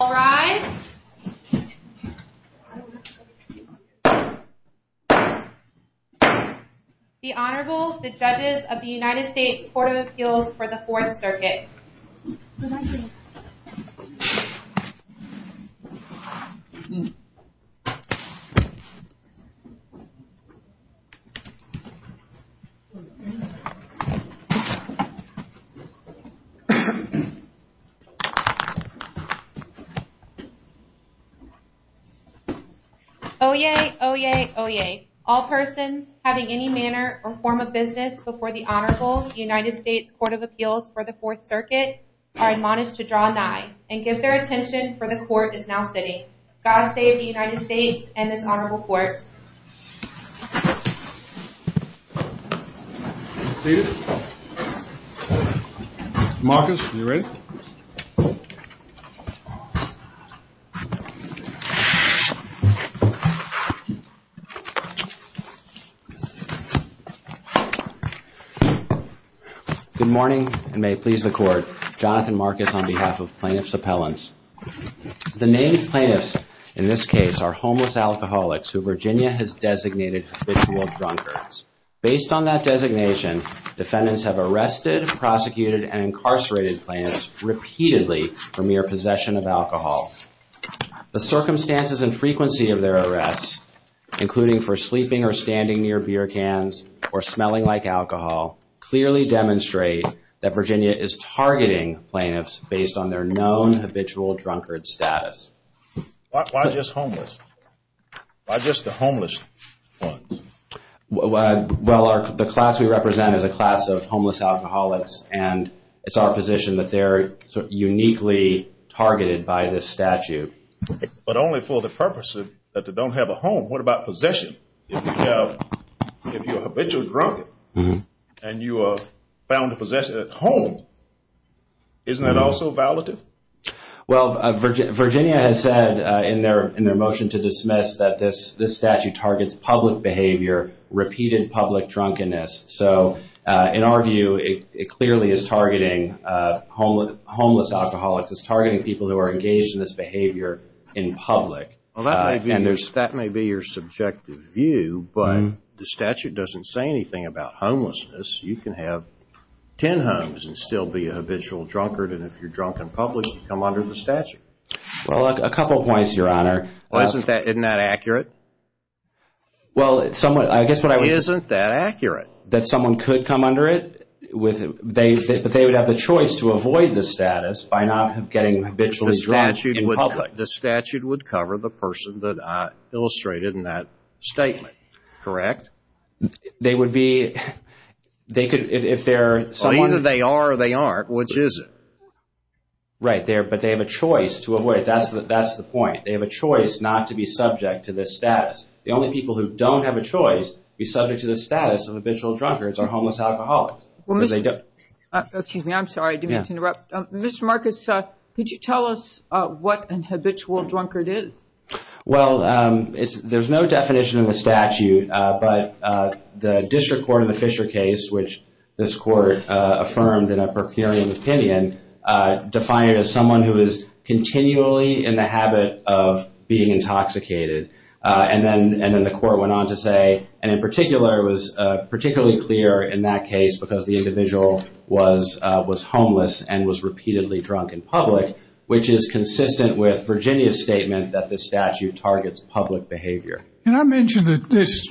The Honorable, the Judges of the United States Court of Appeals for the 4th Circuit. Oyez, oyez, oyez, all persons having any manner or form of business before the Honorable, the Judges of the United States Court of Appeals for the 4th Circuit, are admonished to draw nigh and give their attention for the Court is now sitting. God save the United States and this Honorable Court. Marcus, are you ready? Good morning and may it please the Court. Jonathan Marcus on behalf of Plaintiff's Appellants. The named plaintiffs in this case are homeless alcoholics who Virginia has designated habitual drunkards. Based on that designation, defendants have arrested, prosecuted, and incarcerated plaintiffs repeatedly for mere possession of alcohol. The circumstances and frequency of their arrests, including for sleeping or standing near beer cans or smelling like alcohol, clearly demonstrate that Virginia is targeting plaintiffs based on their known habitual drunkard status. Why just homeless? Why just the homeless ones? Well, the class we represent is a class of homeless alcoholics and it's our position that they're uniquely targeted by this statute. But only for the purpose that they don't have a home. What about possession? If you're a habitual drunkard and you are found possessive at home, isn't that also a violation? Well, Virginia has said in their motion to dismiss that this statute targets public behavior, repeated public drunkenness. So, in our view, it clearly is targeting homeless alcoholics, it's targeting people who are engaged in this behavior in public. That may be your subjective view, but the statute doesn't say anything about homelessness. You can have ten homes and still be a habitual drunkard, and if you're drunk and published, come under the statute. Well, a couple of points, Your Honor. Isn't that accurate? Isn't that accurate? That someone could come under it, they would have the choice to avoid the status by not getting habitually drunk in public. The statute would cover the person that I illustrated in that statement, correct? They would be, they could, if they're someone... Either they are or they aren't, which is it? Right, but they have a choice to avoid, that's the point. They have a choice not to be subject to this status. The only people who don't have a choice to be subject to the status of habitual drunkards are homeless alcoholics. Excuse me, I'm sorry, I didn't mean to interrupt. Mr. Marcus, could you tell us what a habitual drunkard is? Well, there's no definition in the statute, but the district court in the Fisher case, which this court affirmed in a procuring opinion, defined it as someone who is continually in the habit of being intoxicated. And then the court went on to say, and in particular, it was particularly clear in that case because the individual was homeless and was repeatedly drunk in public, which is consistent with Virginia's statement that the statute targets public behavior. Can I mention that this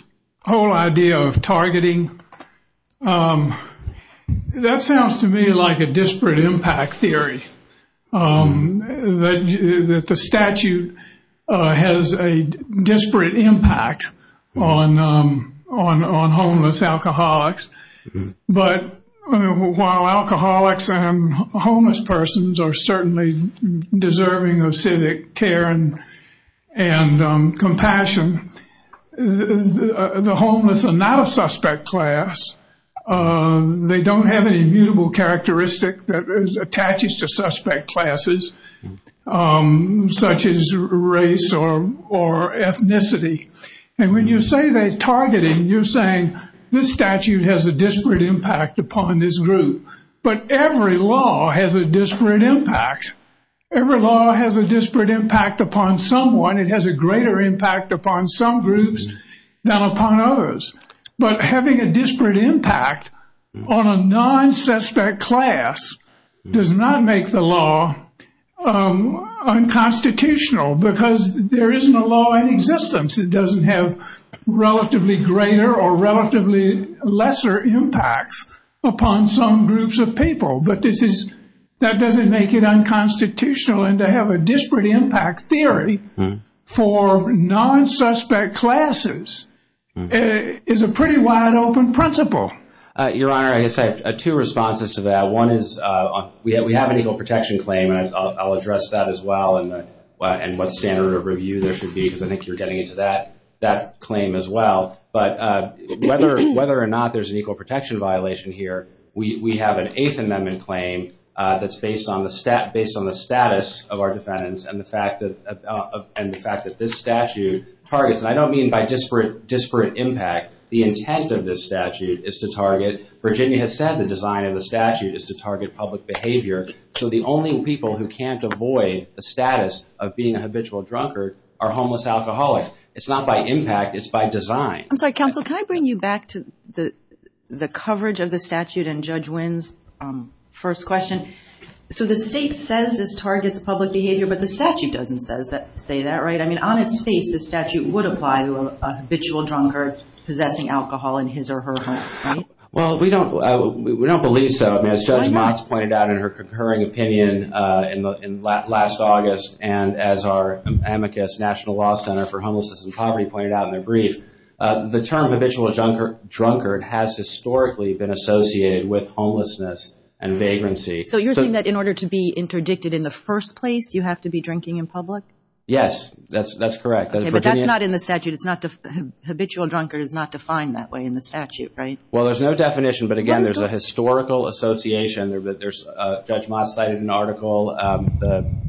whole idea of targeting, that sounds to me like a disparate impact theory. That the statute has a disparate impact on homeless alcoholics. But while alcoholics and homeless persons are certainly deserving of civic care and compassion, the homeless are not a suspect class. They don't have an immutable characteristic that attaches to suspect classes, such as race or ethnicity. And when you say they're targeting, you're saying this statute has a disparate impact upon this group. But every law has a disparate impact. Every law has a disparate impact upon someone. It has a greater impact upon some groups than upon others. But having a disparate impact on a non-suspect class does not make the law unconstitutional because there isn't a law in existence. It doesn't have relatively greater or relatively lesser impacts upon some groups of people. But that doesn't make it unconstitutional. And to have a disparate impact theory for non-suspect classes is a pretty wide-open principle. Your Honor, I guess I have two responses to that. One is we have an equal protection claim, and I'll address that as well and what standard of review there should be because I think you're getting into that claim as well. But whether or not there's an equal protection violation here, we have an Eighth Amendment claim that's based on the status of our defendants and the fact that this statute targets. And I don't mean by disparate impact. The intent of this statute is to target. Virginia has said the design of the statute is to target public behavior. So the only people who can't avoid the status of being a habitual drunkard are homeless alcoholics. It's not by impact. It's by design. I'm sorry. Counsel, can I bring you back to the coverage of the statute and Judge Winn's first question? So the state says this targets public behavior, but the statute doesn't say that, right? I mean, on its face, the statute would apply to a habitual drunkard possessing alcohol in his or her home, right? Well, we don't believe so. I mean, as Judge Motz pointed out in her concurring opinion in last August and as our amicus National Law Center for Homelessness and Poverty pointed out in a brief, the term habitual drunkard has historically been associated with homelessness and vagrancy. So you're saying that in order to be interdicted in the first place, you have to be drinking in public? Yes, that's correct. Okay, but that's not in the statute. It's not the habitual drunkard is not defined that way in the statute, right? Well, there's no definition, but again, there's a historical association. Judge Motz cited an article,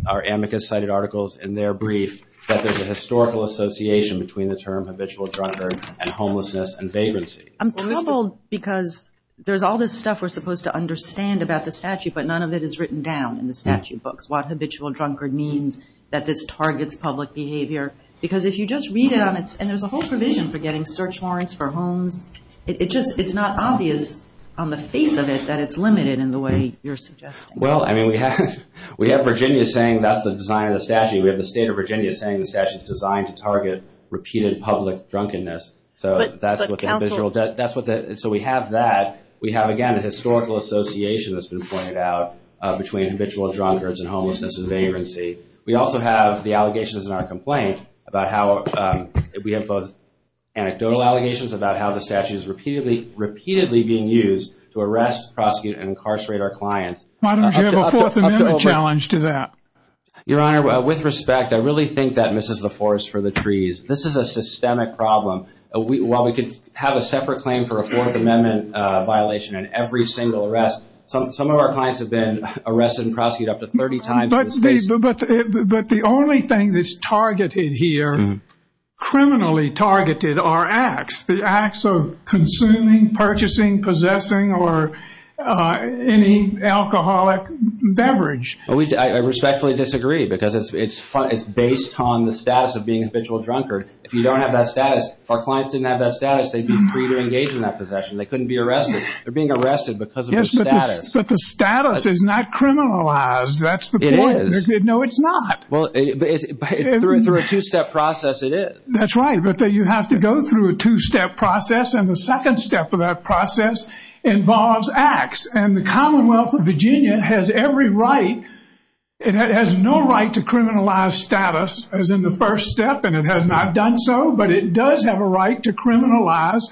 our amicus cited articles in their brief that there's a historical association between the term habitual drunkard and homelessness and vagrancy. I'm troubled because there's all this stuff we're supposed to understand about the statute, but none of it is written down in the statute books. That's what habitual drunkard means, that this targets public behavior. Because if you just read it, and there's a whole provision for getting search warrants for homes. It's just not obvious on the face of it that it's limited in the way you're suggesting. Well, I mean, we have Virginia saying that's the design of the statute. We have the state of Virginia saying the statute's designed to target repeated public drunkenness. So we have that. We have, again, a historical association that's been pointed out between habitual drunkards and homelessness and vagrancy. We also have the allegations in our complaint about how we have both anecdotal allegations about how the statute is repeatedly being used to arrest, prosecute, and incarcerate our clients. Why don't we have a fourth amendment challenge to that? Your Honor, with respect, I really think that misses the forest for the trees. This is a systemic problem. While we could have a separate claim for a fourth amendment violation in every single arrest, some of our clients have been arrested and prosecuted up to 30 times. But the only thing that's targeted here, criminally targeted, are acts. The acts of consuming, purchasing, possessing, or any alcoholic beverage. I respectfully disagree because it's based on the status of being a habitual drunkard. If you don't have that status, if our clients didn't have that status, they'd be free to engage in that possession. They couldn't be arrested. They're being arrested because of the status. But the status is not criminalized. That's the point. It is. No, it's not. Through a two-step process, it is. That's right. But you have to go through a two-step process. And the second step of that process involves acts. And the Commonwealth of Virginia has every right. It has no right to criminalize status as in the first step. And it has not done so. But it does have a right to criminalize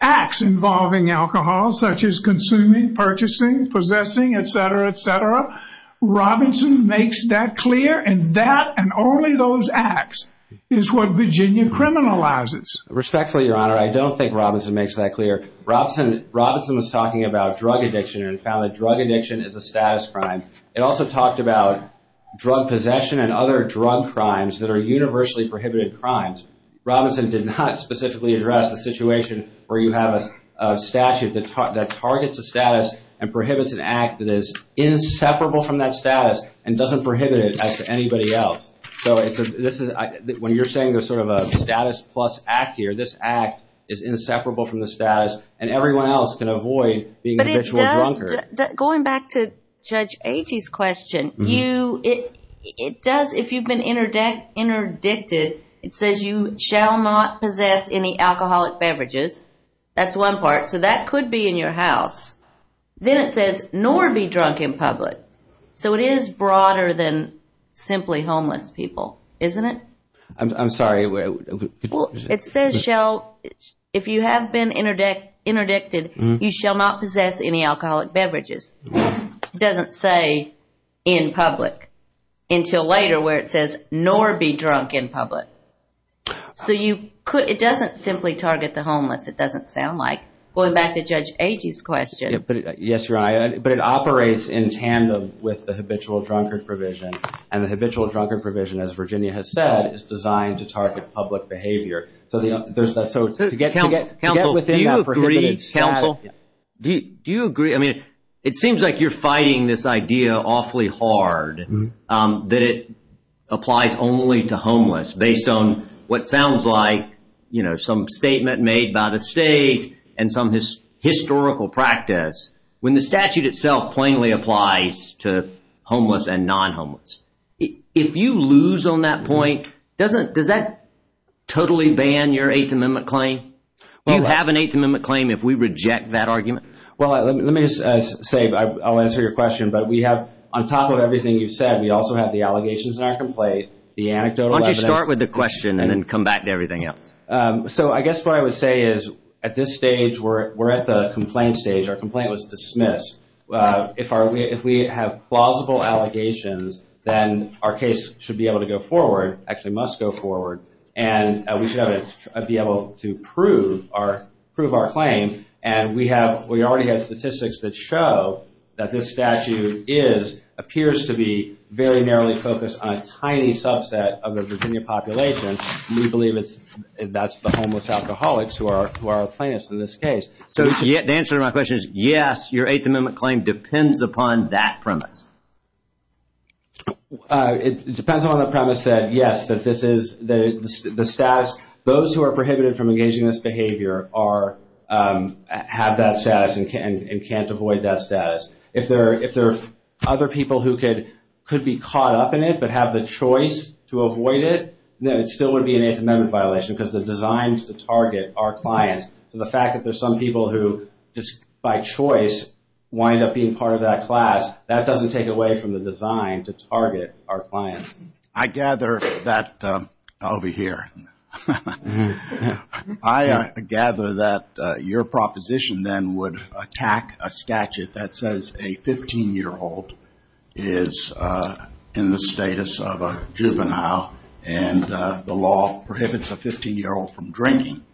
acts involving alcohol, such as consuming, purchasing, possessing, et cetera, et cetera. Robinson makes that clear. And that and only those acts is what Virginia criminalizes. Respectfully, Your Honor, I don't think Robinson makes that clear. Robinson was talking about drug addiction and found that drug addiction is a status crime. It also talked about drug possession and other drug crimes that are universally prohibited crimes. Robinson did not specifically address the situation where you have a statute that targets a status and prohibits an act that is inseparable from that status and doesn't prohibit it as anybody else. When you're saying there's sort of a status plus act here, this act is inseparable from the status and everyone else can avoid being an individual drunkard. Going back to Judge Agee's question, if you've been interdicted, it says you shall not possess any alcoholic beverages. That's one part. So that could be in your house. Then it says nor be drunk in public. So it is broader than simply homeless people, isn't it? I'm sorry. It says if you have been interdicted, you shall not possess any alcoholic beverages. It doesn't say in public until later where it says nor be drunk in public. So it doesn't simply target the homeless, it doesn't sound like. Going back to Judge Agee's question. Yes, Your Honor. But it operates in tandem with the habitual drunkard provision. And the habitual drunkard provision, as Virginia has said, is designed to target public behavior. Counsel, do you agree? Counsel, do you agree? I mean, it seems like you're fighting this idea awfully hard that it applies only to homeless based on what sounds like some statement made by the state and some historical practice. When the statute itself plainly applies to homeless and non-homeless. If you lose on that point, does that totally ban your Eighth Amendment claim? Do you have an Eighth Amendment claim if we reject that argument? Well, let me just say, I'll answer your question. But we have, on top of everything you've said, we also have the allegations back in place. The anecdotal evidence. Why don't you start with the question and then come back to everything else. So I guess what I would say is, at this stage, we're at the complaint stage. Our complaint was dismissed. If we have plausible allegations, then our case should be able to go forward, actually must go forward. And we should be able to prove our claim. And we already have statistics that show that this statute appears to be very narrowly focused on a tiny subset of the Virginia population. We believe that's the homeless alcoholics who are our clients in this case. So the answer to my question is, yes, your Eighth Amendment claim depends upon that premise. It depends upon the premise that, yes, that this is the status. Those who are prohibited from engaging in this behavior have that status and can't avoid that status. If there are other people who could be caught up in it but have the choice to avoid it, then it still would be an Eighth Amendment violation. Because the designs target our clients. And the fact that there's some people who just by choice wind up being part of that class, that doesn't take away from the design to target our clients. I gather that, over here, I gather that your proposition then would attack a statute that says a 15-year-old is in the status of a juvenile. And the law prohibits a 15-year-old from drinking.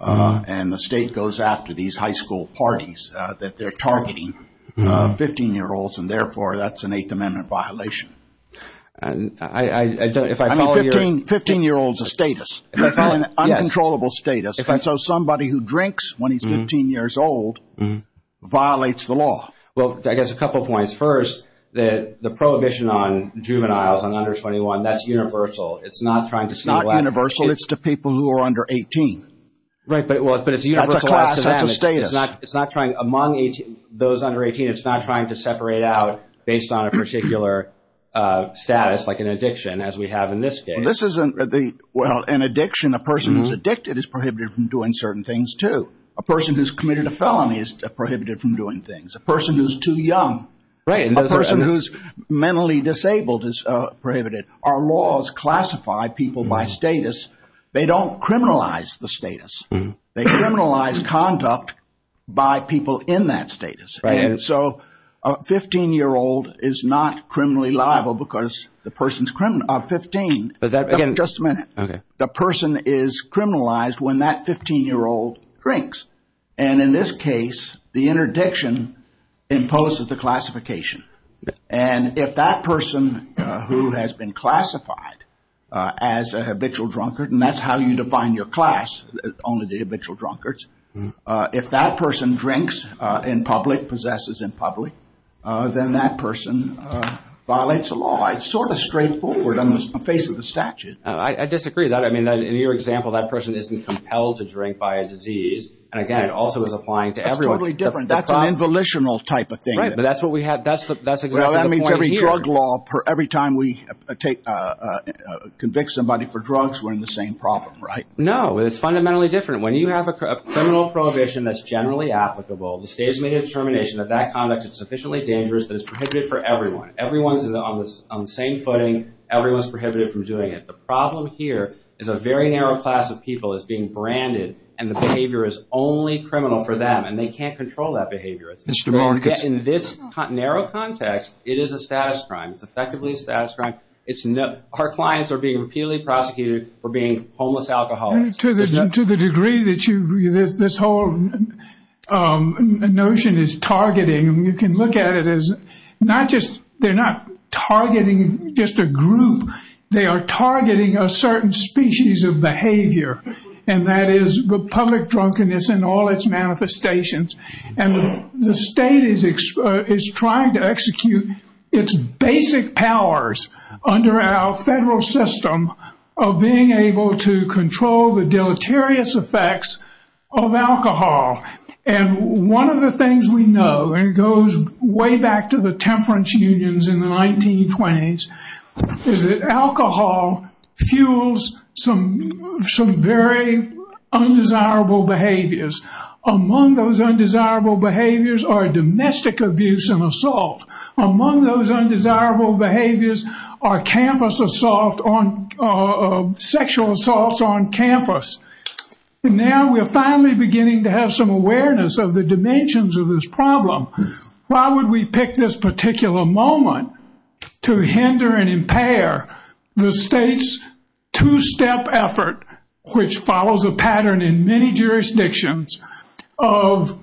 And the state goes after these high school parties that they're targeting 15-year-olds. And, therefore, that's an Eighth Amendment violation. I mean, 15-year-olds are status. Uncontrollable status. So somebody who drinks when he's 15 years old violates the law. Well, I guess a couple points. First, the prohibition on juveniles under 21, that's universal. It's not trying to separate. It's not universal. It's to people who are under 18. Right, but it's universal. That's a status. Among those under 18, it's not trying to separate out based on a particular status, like an addiction, as we have in this case. Well, an addiction, a person who's addicted is prohibited from doing certain things, too. A person who's committed a felony is prohibited from doing things. A person who's too young. Right. A person who's mentally disabled is prohibited. Our laws classify people by status. They don't criminalize the status. They criminalize conduct by people in that status. Right. So a 15-year-old is not criminally liable because the person's 15. Again, just a minute. Okay. The person is criminalized when that 15-year-old drinks. And in this case, the interdiction imposes the classification. And if that person who has been classified as a habitual drunkard, and that's how you define your class, only the habitual drunkards. If that person drinks in public, possesses in public, then that person violates the law. It's sort of straightforward on the face of the statute. I disagree with that. I mean, in your example, that person isn't compelled to drink by a disease. And again, it also is applying to everyone. That's totally different. That's an involutional type of thing. Right. That's what we have. That's exactly the point here. Well, that means every drug law, every time we convict somebody for drugs, we're in the same problem, right? No. It's fundamentally different. When you have a criminal prohibition that's generally applicable, the state has made a determination that that conduct is sufficiently dangerous that it's prohibited for everyone. Everyone is on the same footing. Everyone is prohibited from doing it. The problem here is a very narrow class of people is being branded, and the behavior is only criminal for them, and they can't control that behavior. In this narrow context, it is a status crime. It's effectively a status crime. Our clients are being repeatedly prosecuted for being homeless alcoholics. To the degree that this whole notion is targeting, you can look at it as not just they're not targeting just a group. They are targeting a certain species of behavior, and that is the public drunkenness and all its manifestations. The state is trying to execute its basic powers under our federal system of being able to control the deleterious effects of alcohol. One of the things we know, and it goes way back to the temperance unions in the 1920s, is that alcohol fuels some very undesirable behaviors. Among those undesirable behaviors are domestic abuse and assault. Among those undesirable behaviors are sexual assaults on campus. Now we're finally beginning to have some awareness of the dimensions of this problem. Why would we pick this particular moment to hinder and impair the state's two-step effort, which follows a pattern in many jurisdictions, of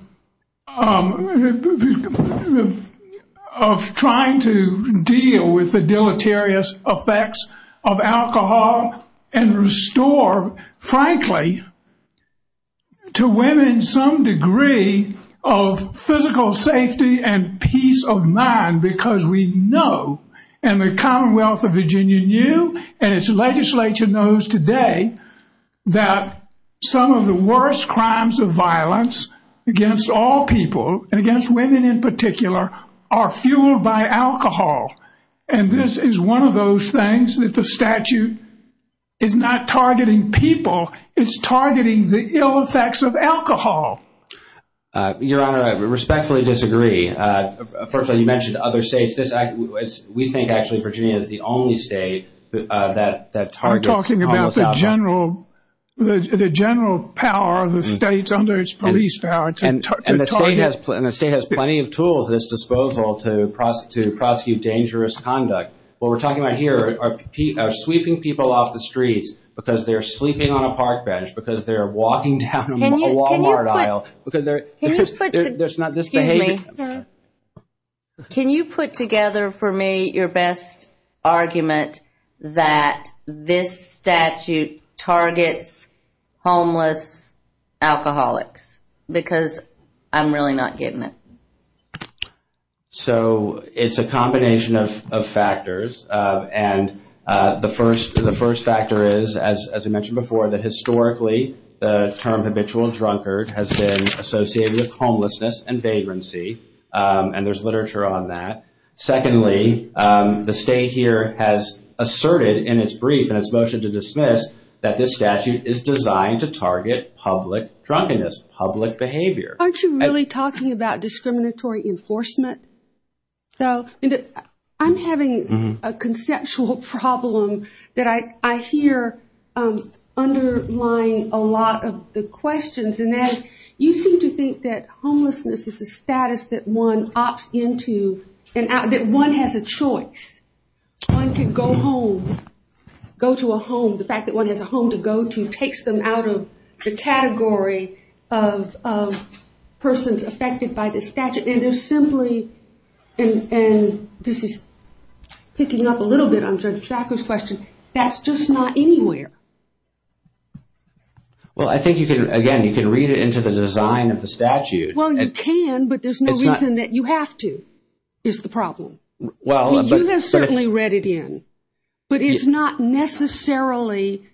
trying to deal with the deleterious effects of alcohol and restore, frankly, to women some degree of physical safety and peace of mind? Because we know, and the Commonwealth of Virginia knew, and its legislature knows today, that some of the worst crimes of violence against all people, and against women in particular, are fueled by alcohol. And this is one of those things that the statute is not targeting people. It's targeting the ill effects of alcohol. Your Honor, I respectfully disagree. First of all, you mentioned other states. We think, actually, Virginia is the only state that targets alcohol. We're talking about the general power of the state under its police power. And the state has plenty of tools at its disposal to prosecute dangerous conduct. What we're talking about here are sweeping people off the streets because they're sleeping on a park bench, because they're walking down a Walmart aisle. Excuse me. Can you put together for me your best argument that this statute targets homeless alcoholics? Because I'm really not getting it. So it's a combination of factors. And the first factor is, as I mentioned before, that historically the term habitual drunkard has been associated with homelessness and vagrancy. And there's literature on that. Secondly, the state here has asserted in its brief and its motion to dismiss that this statute is designed to target public drunkenness, public behavior. Aren't you really talking about discriminatory enforcement? So I'm having a conceptual problem that I hear underlying a lot of the questions. And that is, you seem to think that homelessness is a status that one opts into, that one has a choice. One can go home, go to a home. The fact that one has a home to go to takes them out of the category of persons affected by this statute. It is simply, and this is picking up a little bit on Judge Sackler's question, that's just not anywhere. Well, I think you can, again, you can read it into the design of the statute. Well, you can, but there's no reason that you have to, is the problem. You have certainly read it in. But it's not necessarily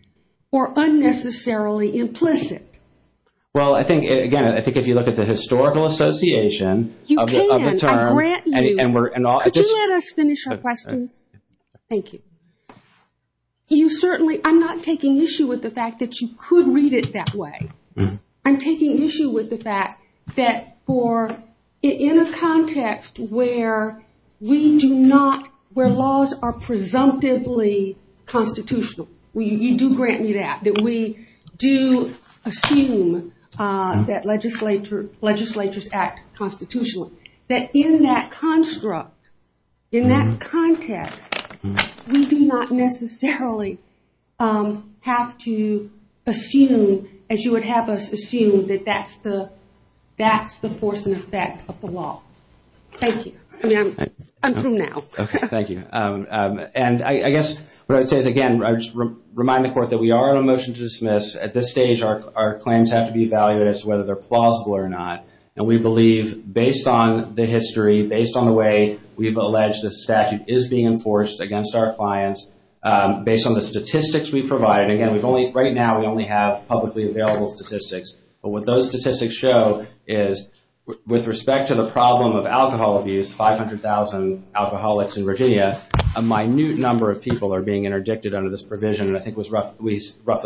or unnecessarily implicit. Well, I think, again, I think if you look at the historical association of the term. Could you let us finish our question? Thank you. You certainly, I'm not taking issue with the fact that you could read it that way. I'm taking issue with the fact that for, in a context where we do not, where laws are presumptively constitutional. You do grant me that, that we do assume that legislatures act constitutionally. That in that construct, in that context, we do not necessarily have to assume, as you would have us assume, that that's the force and effect of the law. Thank you. I'm through now. Okay, thank you. And I guess what I would say is, again, remind the court that we are on a motion to dismiss. At this stage, our claims have to be evaluated as to whether they're plausible or not. And we believe, based on the history, based on the way we've alleged the statute is being enforced against our clients, based on the statistics we provide, again, right now we only have publicly available statistics. But what those statistics show is, with respect to the problem of alcohol abuse, 500,000 alcoholics in Virginia, a minute number of people are being interdicted under this provision, and I think it was roughly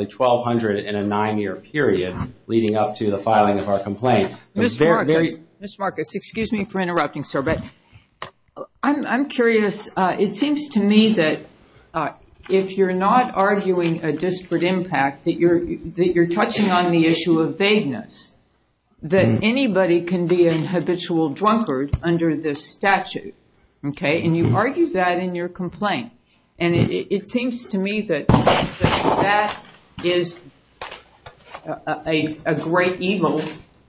1,200 in a nine-year period leading up to the filing of our complaint. Ms. Markowitz, excuse me for interrupting, sir, but I'm curious. It seems to me that if you're not arguing a disparate impact, that you're touching on the issue of vagueness, that anybody can be an habitual drunkard under this statute. And you argue that in your complaint. And it seems to me that that is a great evil,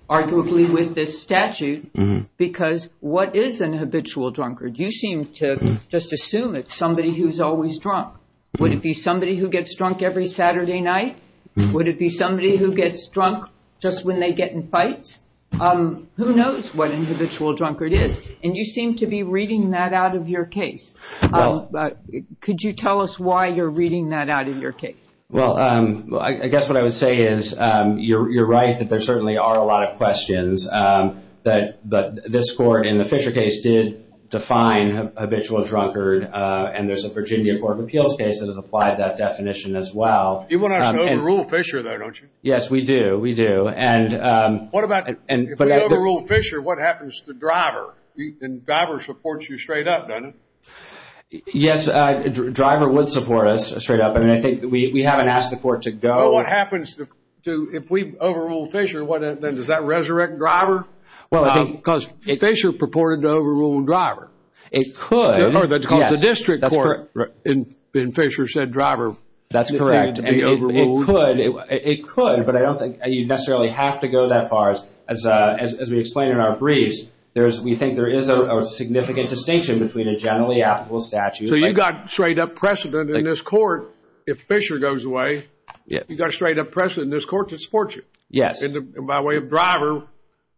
arguably, with this statute, because what is an habitual drunkard? You seem to just assume it's somebody who's always drunk. Would it be somebody who gets drunk every Saturday night? Would it be somebody who gets drunk just when they get in fights? Who knows what an habitual drunkard is? And you seem to be reading that out of your case. Could you tell us why you're reading that out of your case? Well, I guess what I would say is you're right that there certainly are a lot of questions. But this court in the Fisher case did define habitual drunkard, and there's a Virginia Court of Appeals case that has applied that definition as well. You want to actually overrule Fisher, though, don't you? Yes, we do, we do. If we overrule Fisher, what happens to the driver? The driver supports you straight up, doesn't he? Yes, the driver would support us straight up. We haven't asked the court to go. Well, what happens if we overrule Fisher? Does that resurrect driver? Well, because Fisher purported to overrule driver. It could. That's called the district court, and Fisher said driver. That's correct. It could, but I don't think you necessarily have to go that far. As we explain in our briefs, we think there is a significant distinction between a generally applicable statute. So you've got straight up precedent in this court. If Fisher goes away, you've got a straight up precedent in this court that supports you. Yes. And by way of driver,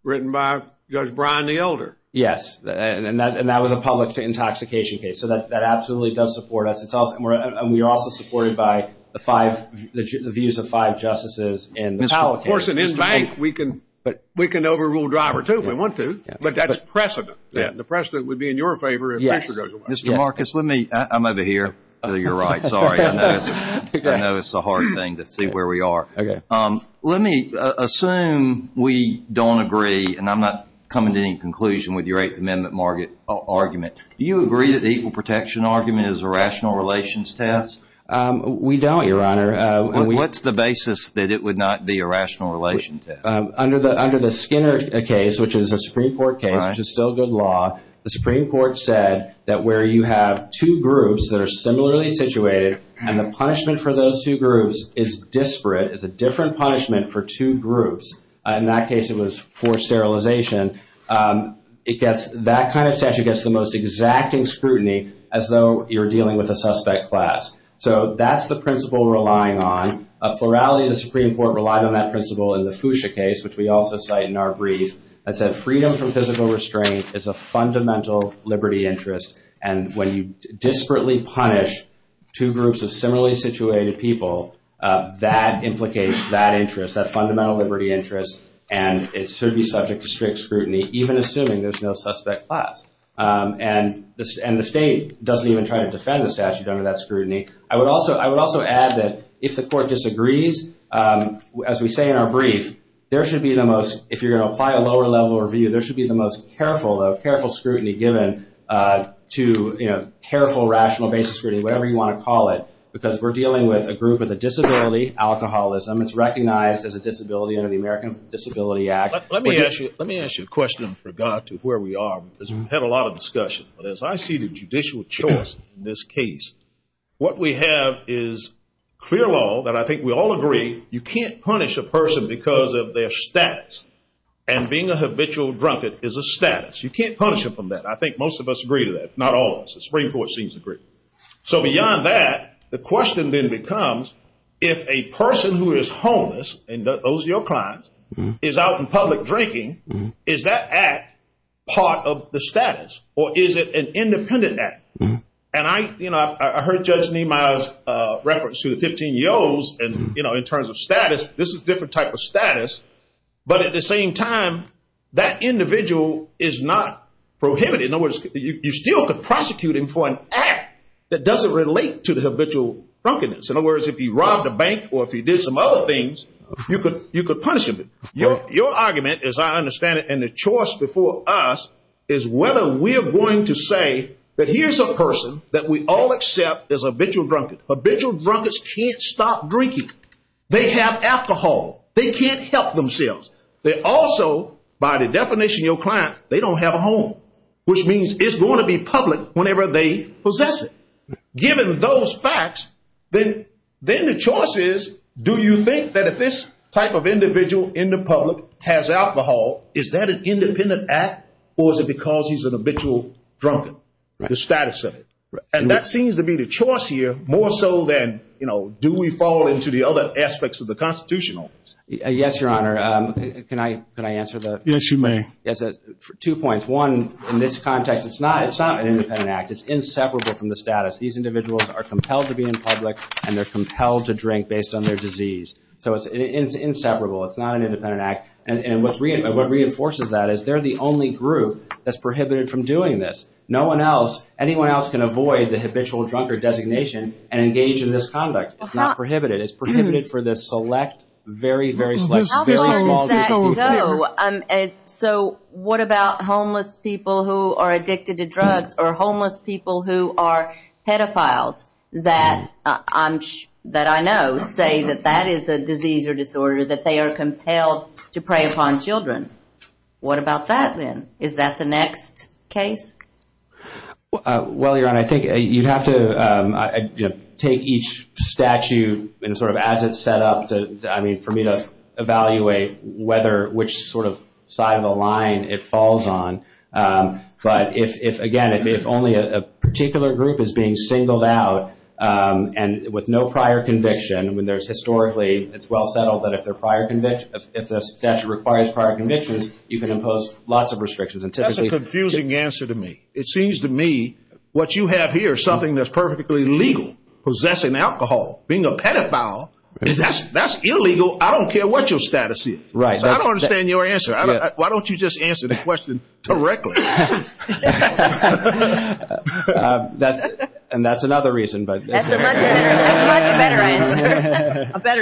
written by Judge Brian the Elder. Yes, and that was a public intoxication case. So that absolutely does support us. And we are also supported by the views of five justices in this case. Of course, and in fact, we can overrule driver, too, if we want to, but that's precedent. The precedent would be in your favor if Fisher goes away. Mr. Marcus, let me – I'm over here to your right. I'm sorry. I know it's a hard thing to see where we are. Let me assume we don't agree, and I'm not coming to any conclusion with your Eighth Amendment argument. Do you agree that the equal protection argument is a rational relations test? We don't, Your Honor. What's the basis that it would not be a rational relations test? Under the Skinner case, which is a Supreme Court case, which is still good law, the Supreme Court said that where you have two groups that are similarly situated and the punishment for those two groups is disparate, is a different punishment for two groups. In that case, it was forced sterilization. It gets – that kind of statute gets the most exacting scrutiny as though you're dealing with a suspect class. So that's the principle we're relying on. A plurality of the Supreme Court relied on that principle in the Fuchsia case, which we also cite in our brief, that said freedom from physical restraint is a fundamental liberty interest, and when you disparately punish two groups of similarly situated people, that implicates that interest, that fundamental liberty interest, and it should be subject to strict scrutiny, even assuming there's no suspect class. And the state doesn't even try to defend the statute under that scrutiny. I would also add that if the court disagrees, as we say in our brief, there should be the most – if you're going to apply a lower-level review, there should be the most careful scrutiny given to, you know, careful, rational, basic scrutiny, whatever you want to call it, because we're dealing with a group with a disability, alcoholism. It's recognized as a disability under the American Disability Act. Let me ask you a question I forgot where we are because we've had a lot of discussion. As I see the judicial choice in this case, what we have is clear law that I think we all agree you can't punish a person because of their status, and being a habitual drunkard is a status. You can't punish them for that. I think most of us agree to that. Not all of us. The Supreme Court seems to agree. So beyond that, the question then becomes if a person who is homeless and owes your clients is out in public drinking, is that act part of the status, or is it an independent act? And I, you know, I heard Judge Niemeyer's reference to the 15-year-olds, and, you know, in terms of status, this is a different type of status, but at the same time, that individual is not prohibited. In other words, you still could prosecute him for an act that doesn't relate to the habitual drunkenness. In other words, if he robbed a bank or if he did some other things, you could punish him. Your argument, as I understand it, and the choice before us is whether we're going to say that here's a person that we all accept as a habitual drunkard. Habitual drunkards can't stop drinking. They have alcohol. They can't help themselves. They also, by the definition of your client, they don't have a home, which means it's going to be public whenever they possess it. Given those facts, then the choice is do you think that if this type of individual in the public has alcohol, is that an independent act, or is it because he's an habitual drunkard, the status of it? And that seems to be the choice here more so than do we fall into the other aspects of the Constitution? Yes, Your Honor. Can I answer that? Yes, you may. Two points. One, in this context, it's not an independent act. It's inseparable from the status. These individuals are compelled to be in public, and they're compelled to drink based on their disease. So it's inseparable. It's not an independent act. And what reinforces that is they're the only group that's prohibited from doing this. No one else, anyone else can avoid the habitual drunkard designation and engage in this conduct. It's not prohibited. It's prohibited for the select, very, very select, very long period of time. So what about homeless people who are addicted to drugs or homeless people who are pedophiles that I know say that that is a disease or disorder, that they are compelled to prey upon children? What about that, then? Is that the next case? Well, Your Honor, I think you have to take each statute sort of as it's set up for me to evaluate which sort of side of the line it falls on. But, again, if only a particular group is being singled out and with no prior conviction, it's well settled that if the statute requires prior convictions, you can impose lots of restrictions. That's a confusing answer to me. It seems to me what you have here is something that's perfectly legal. Possessing alcohol, being a pedophile, that's illegal. I don't care what your status is. I don't understand your answer. Why don't you just answer the question directly? And that's another reason. A better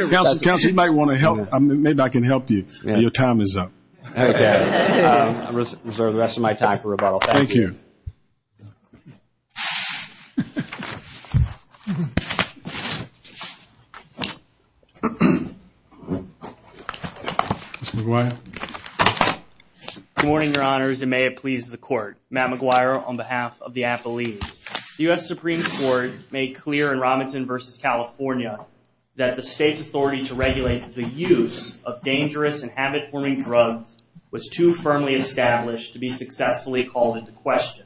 reason. Counsel, you might want to help. Maybe I can help you. Your time is up. Okay. I'll reserve the rest of my time for rebuttal. Thank you. Mr. McGuire? Good morning, Your Honors, and may it please the Court. Matt McGuire on behalf of the affiliates. The U.S. Supreme Court made clear in Robinson v. California that the state's authority to regulate the use of dangerous and habit-forming drugs was too firmly established to be successfully called into question.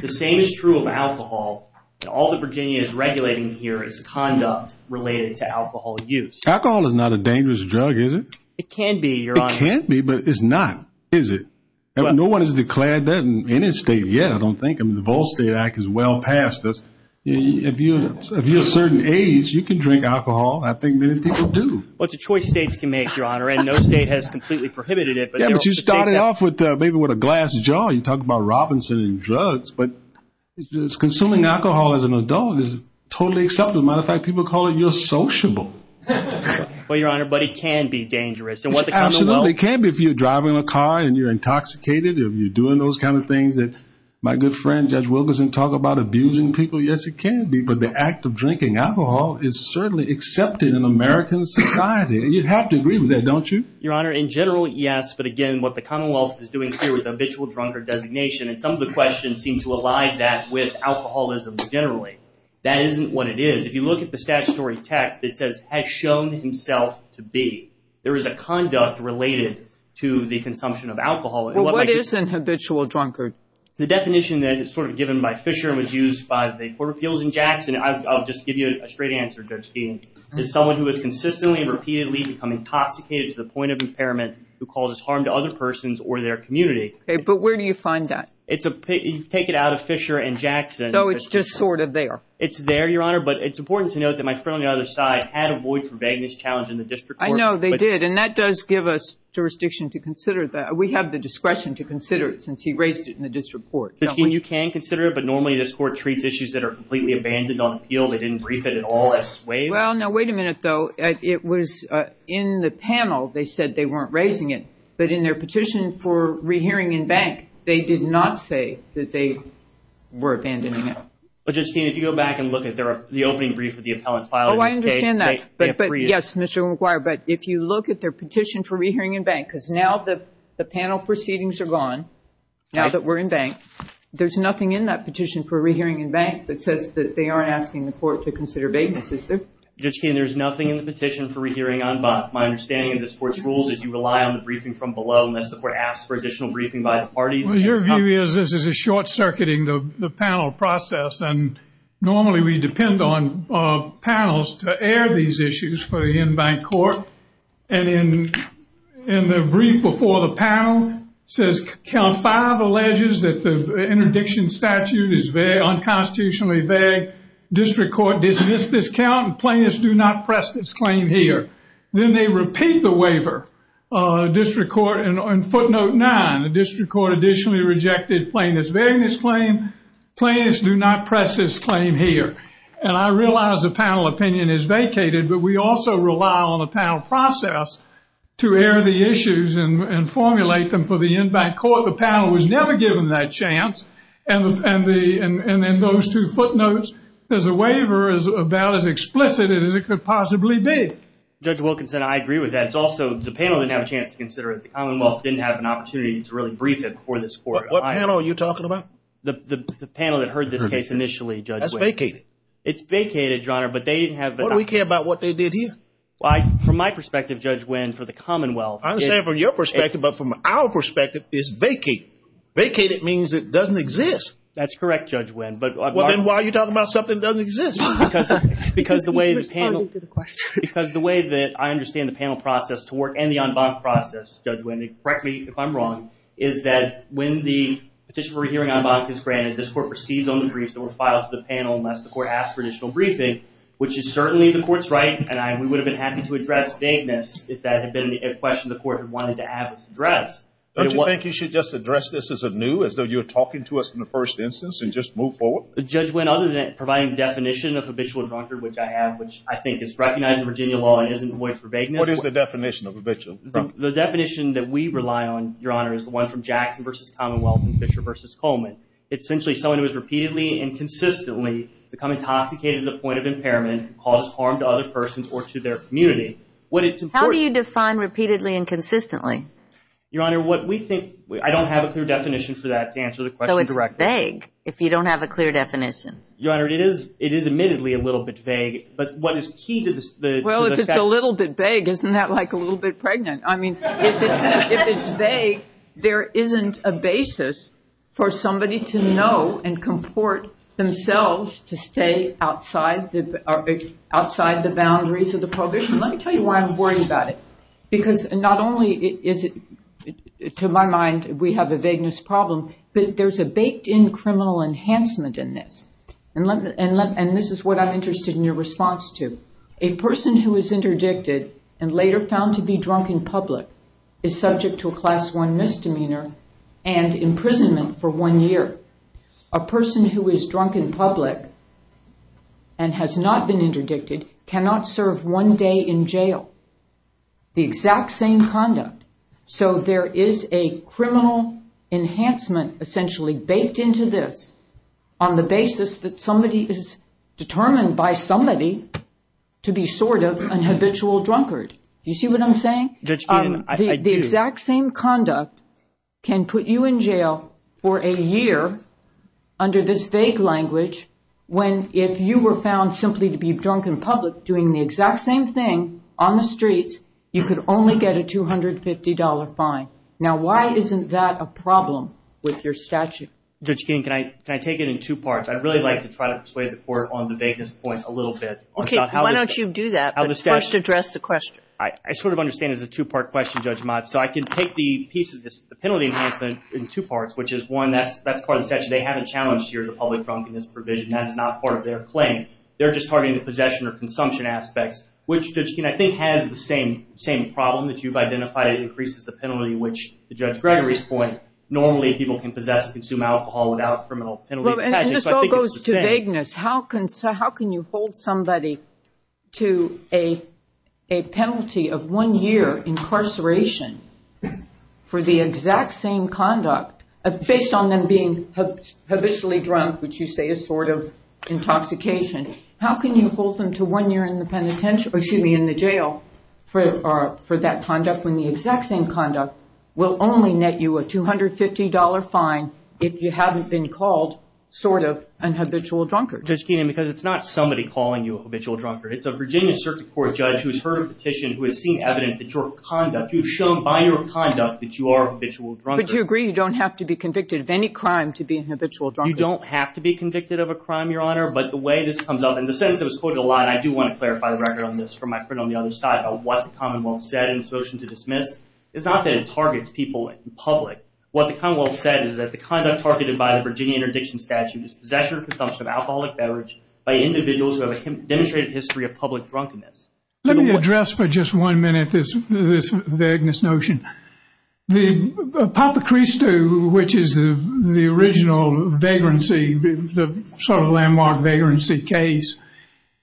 The same is true of alcohol. All that Virginia is regulating here is conduct related to alcohol use. Alcohol is not a dangerous drug, is it? It can be, Your Honor. It can be, but it's not, is it? No one has declared that in any state yet, I don't think. I mean, the Vol State Act is well past this. If you're a certain age, you can drink alcohol. I think many people do. Well, it's a choice states can make, Your Honor, and no state has completely prohibited it. Yeah, but you started off maybe with a glass jar. You talk about Robinson and drugs. But consuming alcohol as an adult is totally acceptable. As a matter of fact, people are calling you a sociable. Well, Your Honor, but it can be dangerous. Absolutely. It can be if you're driving a car and you're intoxicated or you're doing those kind of things. My good friend Judge Wilkerson talked about abusing people. Yes, it can be. But the act of drinking alcohol is certainly accepted in American society. You have to agree with that, don't you? Your Honor, in general, yes. But, again, what the Commonwealth is doing here with the habitual drunkard designation, and some of the questions seem to align that with alcoholism generally, that isn't what it is. If you look at the statutory text, it says, has shown himself to be. There is a conduct related to the consumption of alcohol. Well, what is an habitual drunkard? The definition that is sort of given by Fisher was used by the Porterfields and Jackson. I'll just give you a straight answer, Judge Feeney. It's someone who is consistently and repeatedly becoming intoxicated to the point of impairment who causes harm to other persons or their community. Okay, but where do you find that? Take it out of Fisher and Jackson. So it's just sort of there. It's there, Your Honor, but it's important to note that my friend on the other side had a void for vagueness challenge in the district court. I know they did, and that does give us jurisdiction to consider that. We have the discretion to consider it since he raised it in the district court. But, Feeney, you can consider it, but normally this court treats issues that are completely abandoned on appeal. They didn't brief it at all. Well, now, wait a minute, though. It was in the panel. They said they weren't raising it, but in their petition for rehearing in bank, they did not say that they were abandoning it. But, Judge Feeney, if you go back and look at the opening brief of the appellant filing. Oh, I understand that. Yes, Mr. McGuire, but if you look at their petition for rehearing in bank, because now the panel proceedings are gone, now that we're in bank, there's nothing in that petition for rehearing in bank that says that they aren't asking the court to consider vagueness, is there? Judge Feeney, there's nothing in the petition for rehearing on bond. My understanding of this court's rules is you rely on the briefing from below, and that's the court asks for additional briefing by the parties. Well, your view is this is a short-circuiting of the panel process, and normally we depend on panels to air these issues for the in-bank court. And in the brief before the panel, it says count five alleges that the interdiction statute is vague, unconstitutionally vague. District court dismissed this count, and plaintiffs do not press this claim here. Then they repeat the waiver. District court on footnote nine, the district court additionally rejected plaintiff's vagueness claim. Plaintiffs do not press this claim here. And I realize the panel opinion is vacated, but we also rely on the panel process to air the issues and formulate them for the in-bank court. The panel was never given that chance, and then those two footnotes, there's a waiver about as explicit as it could possibly be. Judge Wilkinson, I agree with that. And it's also, the panel didn't have a chance to consider it. The Commonwealth didn't have an opportunity to really brief it before this court. What panel are you talking about? The panel that heard this case initially, Judge Wynne. That's vacated. It's vacated, Your Honor, but they didn't have the opportunity. What do we care about what they did here? From my perspective, Judge Wynne, for the Commonwealth. I understand from your perspective, but from our perspective, it's vacated. Vacated means it doesn't exist. That's correct, Judge Wynne. Then why are you talking about something that doesn't exist? Because the way that I understand the panel process and the en banc process, Judge Wynne, correct me if I'm wrong, is that when the petition for a hearing en banc is granted, this court proceeds on the briefs that were filed to the panel unless the court asks for additional briefing, which is certainly the court's right, and we would have been happy to address vagueness if that had been a question the court wanted to have addressed. Don't you think you should just address this as anew, as though you were talking to us in the first instance and just move forward? Judge Wynne, other than providing the definition of habitual abunder, which I have, which I think is recognized in Virginia law and isn't void for vagueness. What is the definition of habitual abunder? The definition that we rely on, Your Honor, is the one from Jackson v. Commonwealth and Fisher v. Coleman. It's essentially someone who has repeatedly and consistently become intoxicated to the point of impairment and caused harm to other persons or to their community. How do you define repeatedly and consistently? Your Honor, what we think – I don't have a clear definition for that to answer the question directly. It's a little bit vague if you don't have a clear definition. Your Honor, it is admittedly a little bit vague, but what is key to the – Well, if it's a little bit vague, isn't that like a little bit pregnant? I mean, if it's vague, there isn't a basis for somebody to know and comport themselves to stay outside the boundaries of the prohibition. Let me tell you why I'm worried about it, because not only is it, to my mind, we have a vagueness problem, but there's a baked-in criminal enhancement in this. And this is what I'm interested in your response to. A person who is interdicted and later found to be drunk in public is subject to a Class I misdemeanor and imprisonment for one year. A person who is drunk in public and has not been interdicted cannot serve one day in jail. The exact same conduct. So there is a criminal enhancement essentially baked into this on the basis that somebody is determined by somebody to be sort of an habitual drunkard. Do you see what I'm saying? I do. The exact same conduct can put you in jail for a year under this vague language when if you were found simply to be drunk in public doing the exact same thing on the streets, you could only get a $250 fine. Now, why isn't that a problem with your statute? Judge Keene, can I take it in two parts? I'd really like to try to persuade the Court on the vagueness point a little bit. Okay. Why don't you do that, but first address the question. I sort of understand it as a two-part question, Judge Mott. So I can take the piece of this penalty enhancement in two parts, which is one, that's part of the statute. They haven't challenged here the public drunkenness provision. That is not part of their claim. They're just targeting the possession or consumption aspect, which, Judge Keene, I think has the same problem that you've identified. It increases the penalty, which, to Judge Gregory's point, normally people can possess and consume alcohol without criminal penalty. And this all goes to vagueness. How can you hold somebody to a penalty of one year incarceration for the exact same conduct, based on them being habitually drunk, which you say is sort of intoxication? How can you hold them to one year in the jail for that conduct when the exact same conduct will only net you a $250 fine if you haven't been called sort of an habitual drunkard? Judge Keene, because it's not somebody calling you a habitual drunkard. It's a Virginia Circuit Court judge who has heard a petition, who has seen evidence that your conduct, you've shown by your conduct, that you are a habitual drunkard. But you agree you don't have to be convicted of any crime to be an habitual drunkard? You don't have to be convicted of a crime, Your Honor, but the way this comes up, and the sentence is quoted a lot, and I do want to clarify the record on this for my friend on the other side, what the Commonwealth said in its motion to dismiss, it's not that it targets people in public. What the Commonwealth said is that the conduct targeted by the Virginia Interdiction Statute is possession and consumption of alcoholic beverage by individuals who have a demonstrated history of public drunkenness. Let me address for just one minute this vagueness notion. The Papakristou, which is the original vagrancy, the sort of landmark vagrancy case,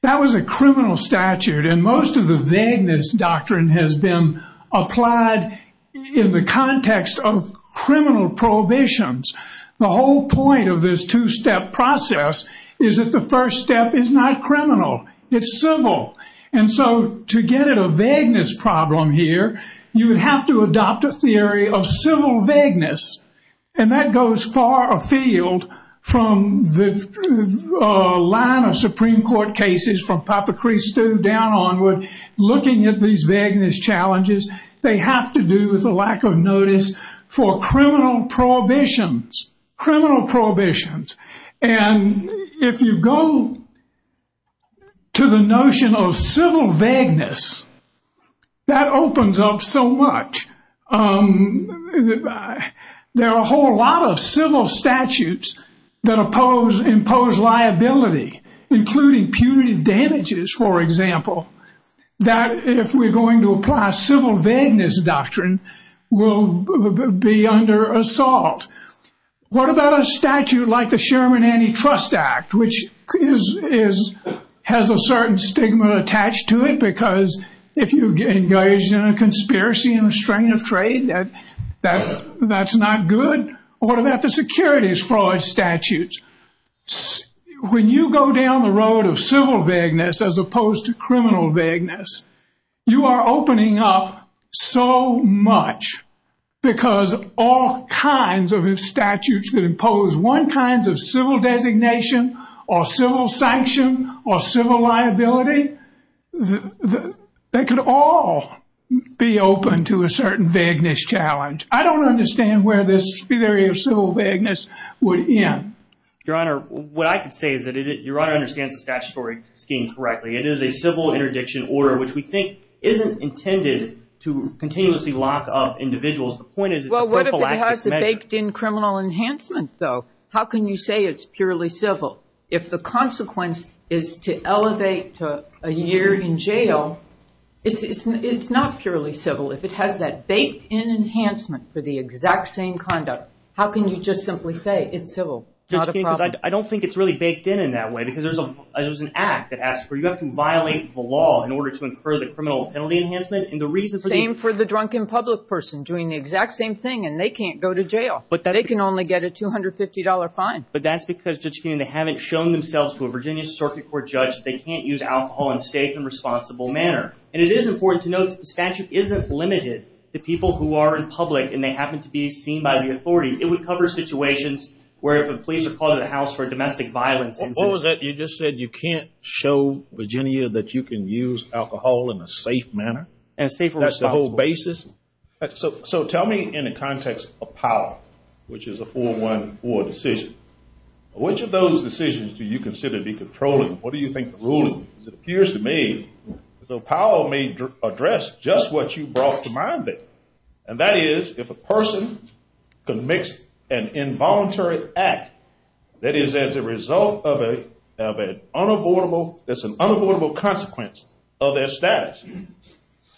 that was a criminal statute, and most of the vagueness doctrine has been applied in the context of criminal prohibitions. The whole point of this two-step process is that the first step is not criminal. It's civil. And so to get at a vagueness problem here, you have to adopt a theory of civil vagueness, and that goes far afield from the line of Supreme Court cases from Papakristou down onward, looking at these vagueness challenges. They have to do with the lack of notice for criminal prohibitions, criminal prohibitions. And if you go to the notion of civil vagueness, that opens up so much. There are a whole lot of civil statutes that impose liability, including punitive damages, for example, that if we're going to apply civil vagueness doctrine, will be under assault. What about a statute like the Sherman Antitrust Act, which has a certain stigma attached to it, because if you engage in a conspiracy and a strain of trade, that's not good? Or what about the securities fraud statutes? When you go down the road of civil vagueness as opposed to criminal vagueness, you are opening up so much, because all kinds of statutes that impose one kind of civil designation or civil sanction or civil liability, they could all be open to a certain vagueness challenge. I don't understand where this theory of civil vagueness would end. Your Honor, what I can say is that Your Honor understands the statutory scheme correctly. It is a civil interdiction order, which we think isn't intended to continuously lock up individuals. The point is it's a prophylactic measure. Well, what if it has the baked-in criminal enhancement, though? How can you say it's purely civil? If the consequence is to elevate to a year in jail, it's not purely civil. If it has that baked-in enhancement for the exact same conduct, how can you just simply say it's civil? I don't think it's really baked-in in that way, because there's an act that asks for it. You have to violate the law in order to incur the criminal penalty enhancement. Same for the drunken public person doing the exact same thing, and they can't go to jail. But they can only get a $250 fine. But that's because, Judge Keenan, they haven't shown themselves to a Virginia Circuit Court judge that they can't use alcohol in a safe and responsible manner. And it is important to note that the statute isn't limited to people who are in public and they happen to be seen by the authorities. It would cover situations where the police would call to the house for domestic violence. What was that? You just said you can't show Virginia that you can use alcohol in a safe manner? That's the whole basis? So tell me in the context of power, which is a 4-1-4 decision, which of those decisions do you consider decontrolling? What do you think the rule is? It appears to me the power may address just what you brought to mind there, and that is if a person commits an involuntary act that is as a result of an unavoidable consequence of their status,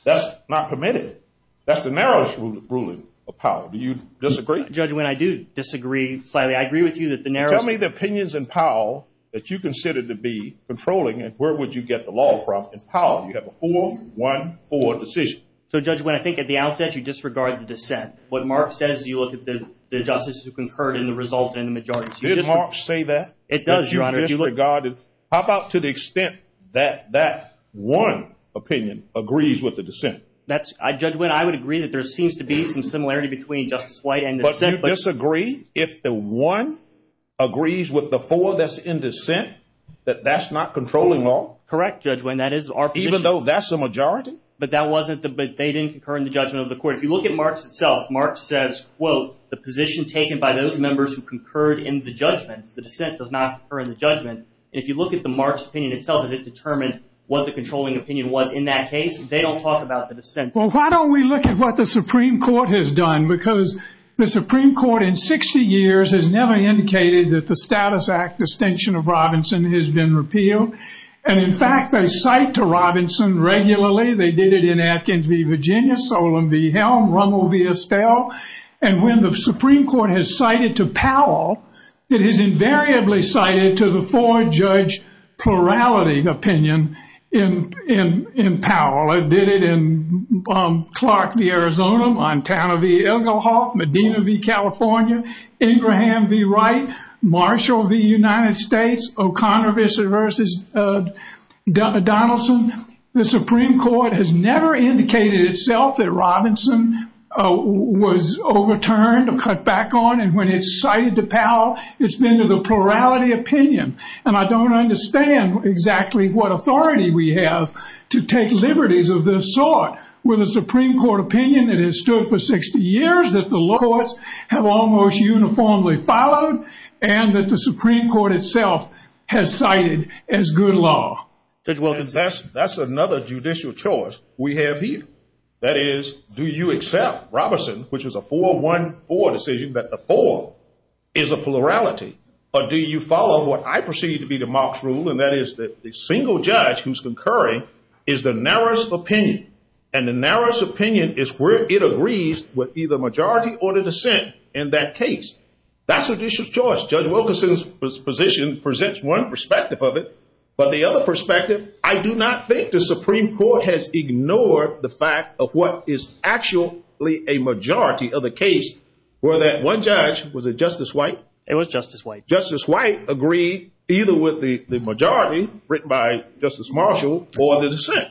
that's not permitted. That's the narrowest ruling of power. Do you disagree? Judge Wynne, I do disagree slightly. I agree with you that the narrowest— Tell me the opinions in power that you consider to be controlling, and where would you get the law across in power if you have a 4-1-4 decision? So, Judge Wynne, I think at the outset you disregard the dissent. What Mark says, you look at the justice who concurred in the result in the majority. Did Mark say that? It does, Your Honor. How about to the extent that that one opinion agrees with the dissent? Judge Wynne, I would agree that there seems to be some similarity between Justice White and the dissent. But do you disagree if the one agrees with the four that's in dissent, that that's not controlling law? Correct, Judge Wynne, that is our position. Even though that's the majority? But they didn't concur in the judgment of the court. If you look at Mark's self, Mark says, quote, the position taken by those members who concurred in the judgment, the dissent does not concur in the judgment. If you look at the Mark's opinion itself, and it determines what the controlling opinion was in that case, they don't talk about the dissent. Well, why don't we look at what the Supreme Court has done? Because the Supreme Court in 60 years has never indicated that the Status Act distinction of Robinson has been repealed. And, in fact, they cite to Robinson regularly. They did it in Atkins v. Virginia, Solon v. Helm, Rummel v. Estelle. And when the Supreme Court has cited to Powell, it has invariably cited to the four-judge plurality opinion in Powell. It did it in Clark v. Arizona, Montana v. Illinois, Medina v. California, Abraham v. Wright, Marshall v. United States, O'Connor v. Donaldson. The Supreme Court has never indicated itself that Robinson was overturned or cut back on. And when it cited to Powell, it's been to the plurality opinion. And I don't understand exactly what authority we have to take liberties of this sort with a Supreme Court opinion that has stood for 60 years, that the laws have almost uniformly followed, and that the Supreme Court itself has cited as good law. Well, that's another judicial choice we have here. That is, do you accept Robinson, which is a 4-1-4 decision, that the four is a plurality, or do you follow what I perceive to be democrat rule, and that is that the single judge who's concurring is the narrowest opinion. And the narrowest opinion is where it agrees with either majority or the dissent in that case. That's a judicial choice. Judge Wilkinson's position presents one perspective of it, but the other perspective, I do not think the Supreme Court has ignored the fact of what is actually a majority of the case, where that one judge, was it Justice White? It was Justice White. Justice White agreed either with the majority, written by Justice Marshall, or the dissent.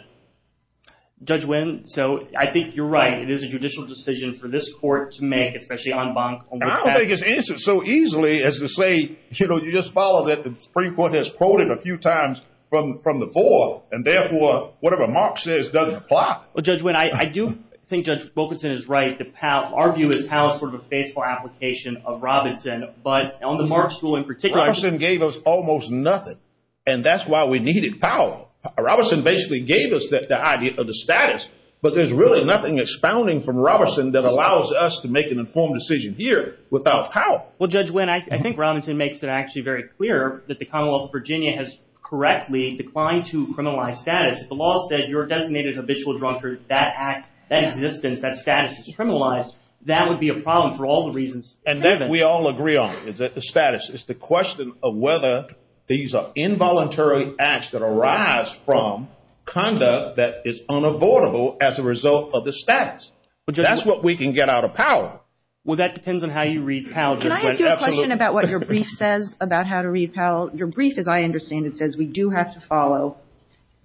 Judge Wynn, so I think you're right. It is a judicial decision for this court to make, I don't think it's answered so easily as to say, you know, you just follow that the Supreme Court has quoted a few times from the board, and therefore, whatever Mark says doesn't apply. Well, Judge Wynn, I do think Judge Wilkinson is right to argue that Powell is sort of a faithful application of Robinson, but Elmer Marshall in particular. Robinson gave us almost nothing, and that's why we needed Powell. Robinson basically gave us the idea of the status, but there's really nothing expounding from Robinson that allows us to make an informed decision here without Powell. Well, Judge Wynn, I think Robinson makes it actually very clear that the Commonwealth of Virginia has correctly declined to criminalize status. If the law says you're a designated habitual drunkard, that act, that existence, that status is criminalized, that would be a problem for all the reasons. And that we all agree on, the status. It's the question of whether these are involuntary acts that arise from conduct that is unavoidable as a result of the status. But that's what we can get out of Powell. Well, that depends on how you read Powell, Judge Wynn. Can I ask you a question about what your brief says about how to read Powell? Your brief, as I understand it, says we do have to follow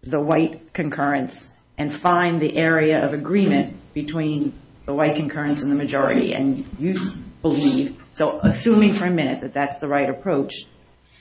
the white concurrence and find the area of agreement between the white concurrence and the majority. And you believe, so assuming for a minute that that's the right approach,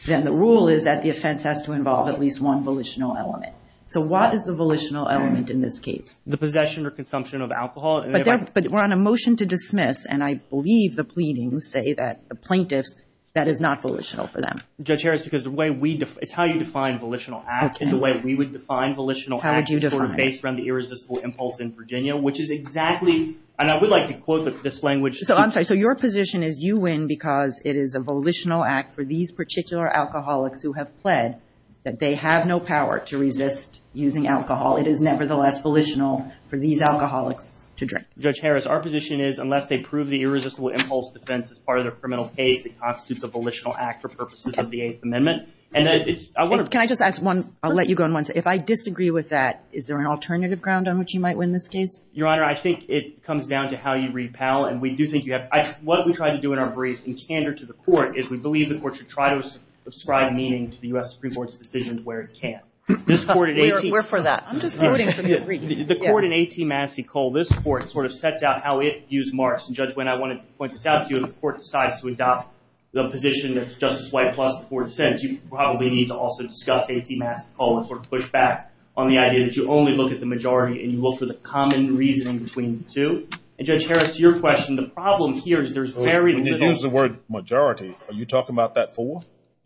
then the rule is that the offense has to involve at least one volitional element. So what is the volitional element in this case? The possession or consumption of alcohol. But we're on a motion to dismiss, and I believe the pleadings say that the plaintiff, that is not volitional for them. Judge Harris, because the way we define, it's how you define volitional acts and the way we would define volitional acts were based around the irresistible impulse in Virginia, which is exactly, and I would like to quote this language. So I'm sorry, so your position is you win because it is a volitional act for these particular alcoholics who have pled that they have no power to resist using alcohol. It is nevertheless volitional for these alcoholics to drink. Judge Harris, our position is unless they prove the irresistible impulse defense as part of their criminal case, it constitutes a volitional act for purposes of the Eighth Amendment. Can I just ask one, I'll let you go on one. If I disagree with that, is there an alternative ground on which you might win this case? Your Honor, I think it comes down to how you read Powell, and what we try to do in our briefs in candor to the court is we believe the court should try to ascribe meaning to the U.S. Supreme Court's decisions where it can. We're for that. I'm just voting for the brief. The court in 18 Massey Cole, this court sort of sets out how it views marks, and Judge Wynn, I want to point this out to you. If the court decides to adopt the position that Justice White plus the court said, you probably need to also discuss 18 Massey Cole and sort of push back on the idea that you only look at the majority and you look for the common reason between the two. And Judge Harris, your question, the problem here is there's very little... When you use the word majority, are you talking about that four?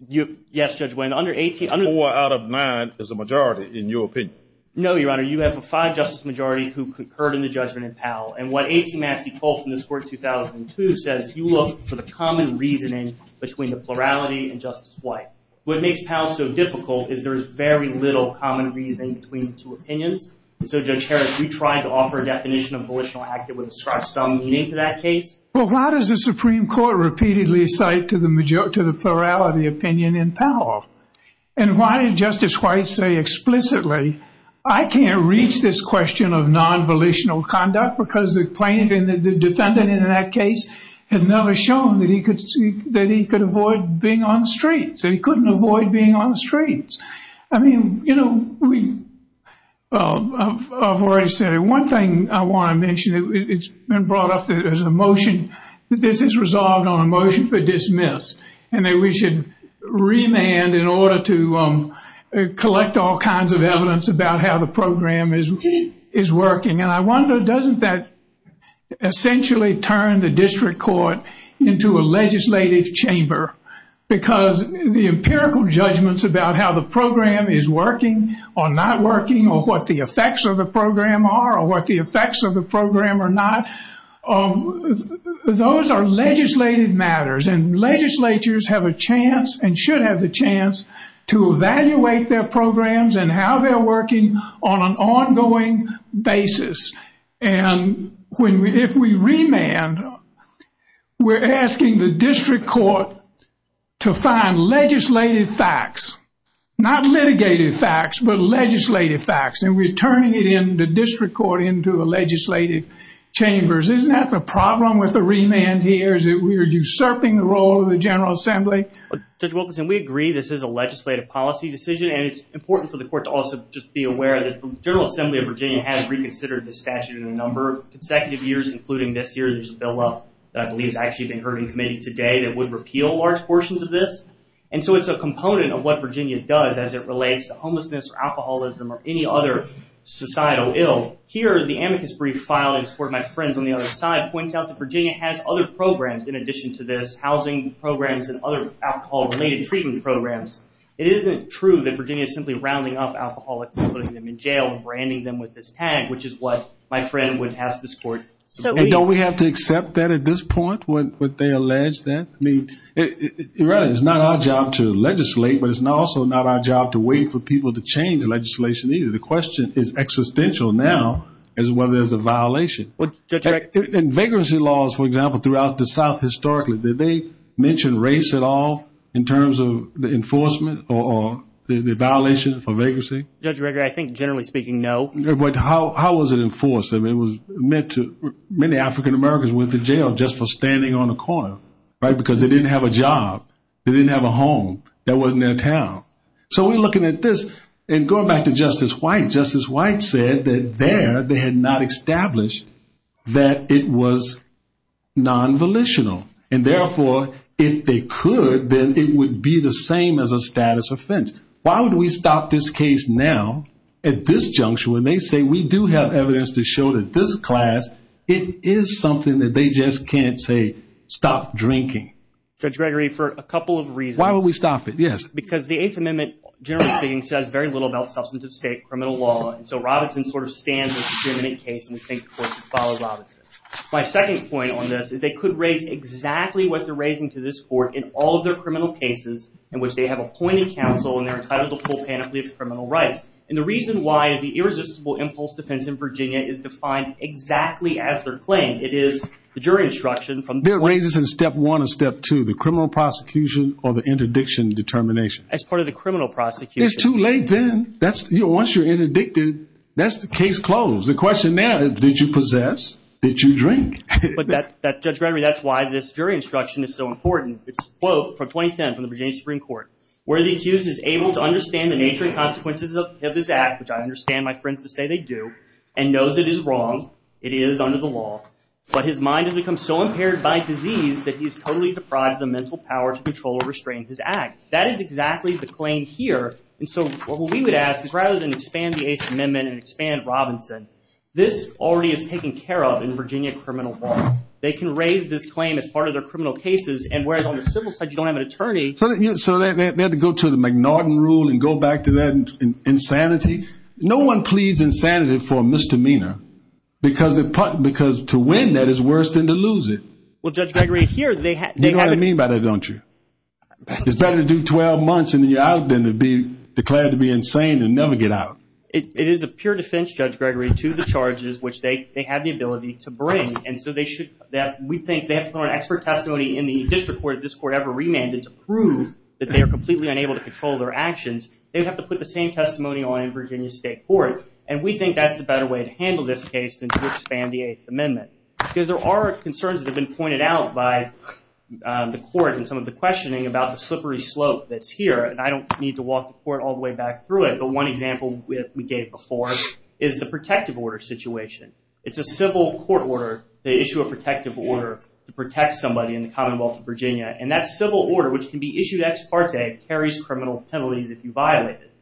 Yes, Judge Wynn. Four out of nine is a majority in your opinion. No, Your Honor. You have a five-justice majority who concurred in the judgment in Powell. And what 18 Massey Cole from this court in 2002 says, you look for the common reasoning between the plurality and Justice White. What makes Powell so difficult is there's very little common reasoning between the two opinions. So, Judge Harris, you try to offer a definition of volitional act that would ascribe some meaning to that case. Well, why does the Supreme Court repeatedly cite to the plurality opinion in Powell? And why did Justice White say explicitly, I can't reach this question of non-volitional conduct because the defendant in that case had never shown that he could avoid being on the streets. He couldn't avoid being on the streets. I mean, you know, one thing I want to mention, it's been brought up as a motion, this is resolved on a motion for dismiss and that we should remand in order to collect all kinds of evidence about how the program is working. And I wonder, doesn't that essentially turn the district court into a legislative chamber because the empirical judgments about how the program is working or not working or what the effects of the program are or what the effects of the program are not, those are legislative matters. And legislatures have a chance and should have the chance to evaluate their programs and how they're working on an ongoing basis. And if we remand, we're asking the district court to find legislative facts, not litigated facts, but legislative facts. And we're turning it in the district court into a legislative chamber. Isn't that the problem with the remand here? Is it we're usurping the role of the General Assembly? Judge Wilkinson, we agree this is a legislative policy decision and it's important for the court to also just be aware that the General Assembly of Virginia has reconsidered this statute in a number of consecutive years, including this year. There's a bill that I believe has actually been heard in committee today that would repeal large portions of this. And so it's a component of what Virginia does as it relates to homelessness or alcoholism or any other societal ill. Here is the amicus brief file. It points out that Virginia has other programs in addition to this, housing programs and other alcohol-related treatment programs. It isn't true that Virginia is simply rounding up alcoholics and putting them in jail and branding them with this tag, which is what my friend would ask the court to do. And don't we have to accept that at this point, what they allege that? I mean, it's not our job to legislate, but it's also not our job to wait for people to change the legislation either. The question is existential now is whether there's a violation. And vagrancy laws, for example, throughout the South historically, did they mention race at all in terms of the enforcement or the violation for vagrancy? Judge Reagan, I think generally speaking, no. But how was it enforced? I mean, many African-Americans went to jail just for standing on a corner, right, because they didn't have a job. They didn't have a home. That wasn't their town. So we're looking at this and going back to Justice White. Justice White said that there they had not established that it was non-volitional. And, therefore, if they could, then it would be the same as a status offense. Why would we stop this case now at this junction when they say we do have evidence to show that this class, it is something that they just can't say, stop drinking? Judge Gregory, for a couple of reasons. Why would we stop it? Because the Eighth Amendment generally speaking says very little about substance of state criminal law. So Robinson sort of stands with the case and takes the court to follow Robinson. My second point on this is they could raise exactly what they're raising to this court in all of their criminal cases in which they have appointed counsel and they're entitled to full penalty of criminal rights. And the reason why the irresistible impulse defense in Virginia is defined exactly as they're claimed. It is the jury instruction from the court. There are raises in step one and step two. It's either the criminal prosecution or the interdiction determination. As part of the criminal prosecution. It's too late then. Once you're interdicted, that's the case closed. The question now is did you possess? Did you drink? Judge Gregory, that's why this jury instruction is so important. It's a quote from 2010 from the Virginia Supreme Court. Where the accused is able to understand the nature and consequences of his act, which I understand my friends would say they do, and knows it is wrong, it is under the law, but his mind has become so impaired by disease that he's totally deprived of the mental power to control or restrain his act. That is exactly the claim here. And so what we would ask is rather than expand the Eighth Amendment and expand Robinson, this already is taken care of in Virginia criminal law. They can raise this claim as part of their criminal cases, and whereas on the civil side you don't have an attorney. So they have to go to the McNaughton rule and go back to that insanity? No one pleads insanity for a misdemeanor because to win that is worse than to lose it. You know what I mean by that, don't you? It's better to do 12 months in the out than to be declared to be insane and never get out. It is a pure defense, Judge Gregory, to the charges, which they have the ability to bring. And so we think they have to put on expert testimony in the existing court that this court ever remanded to prove that they are completely unable to control their actions. They have to put the same testimony on in Virginia State Court. And we think that's the better way to handle this case than to expand the Eighth Amendment. Because there are concerns that have been pointed out by the court and some of the questioning about the slippery slope that's here, and I don't need to walk the court all the way back through it, but one example we gave before is the protective order situation. It's a civil court order to issue a protective order to protect somebody in the Commonwealth of Virginia. And that civil order, which can be issued ex parte, carries criminal penalties if you violate it.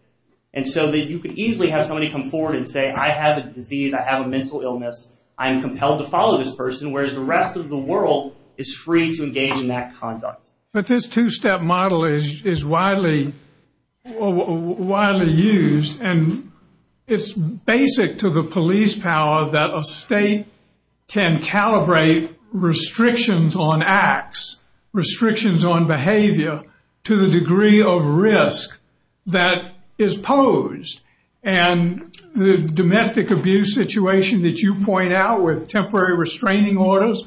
And so you could easily have somebody come forward and say, I have a disease, I have a mental illness, I am compelled to follow this person, whereas the rest of the world is free to engage in that conduct. But this two-step model is widely used, and it's basic to the police power that a state can calibrate restrictions on acts, restrictions on behavior, to the degree of risk that is posed. And the domestic abuse situation that you point out with temporary restraining orders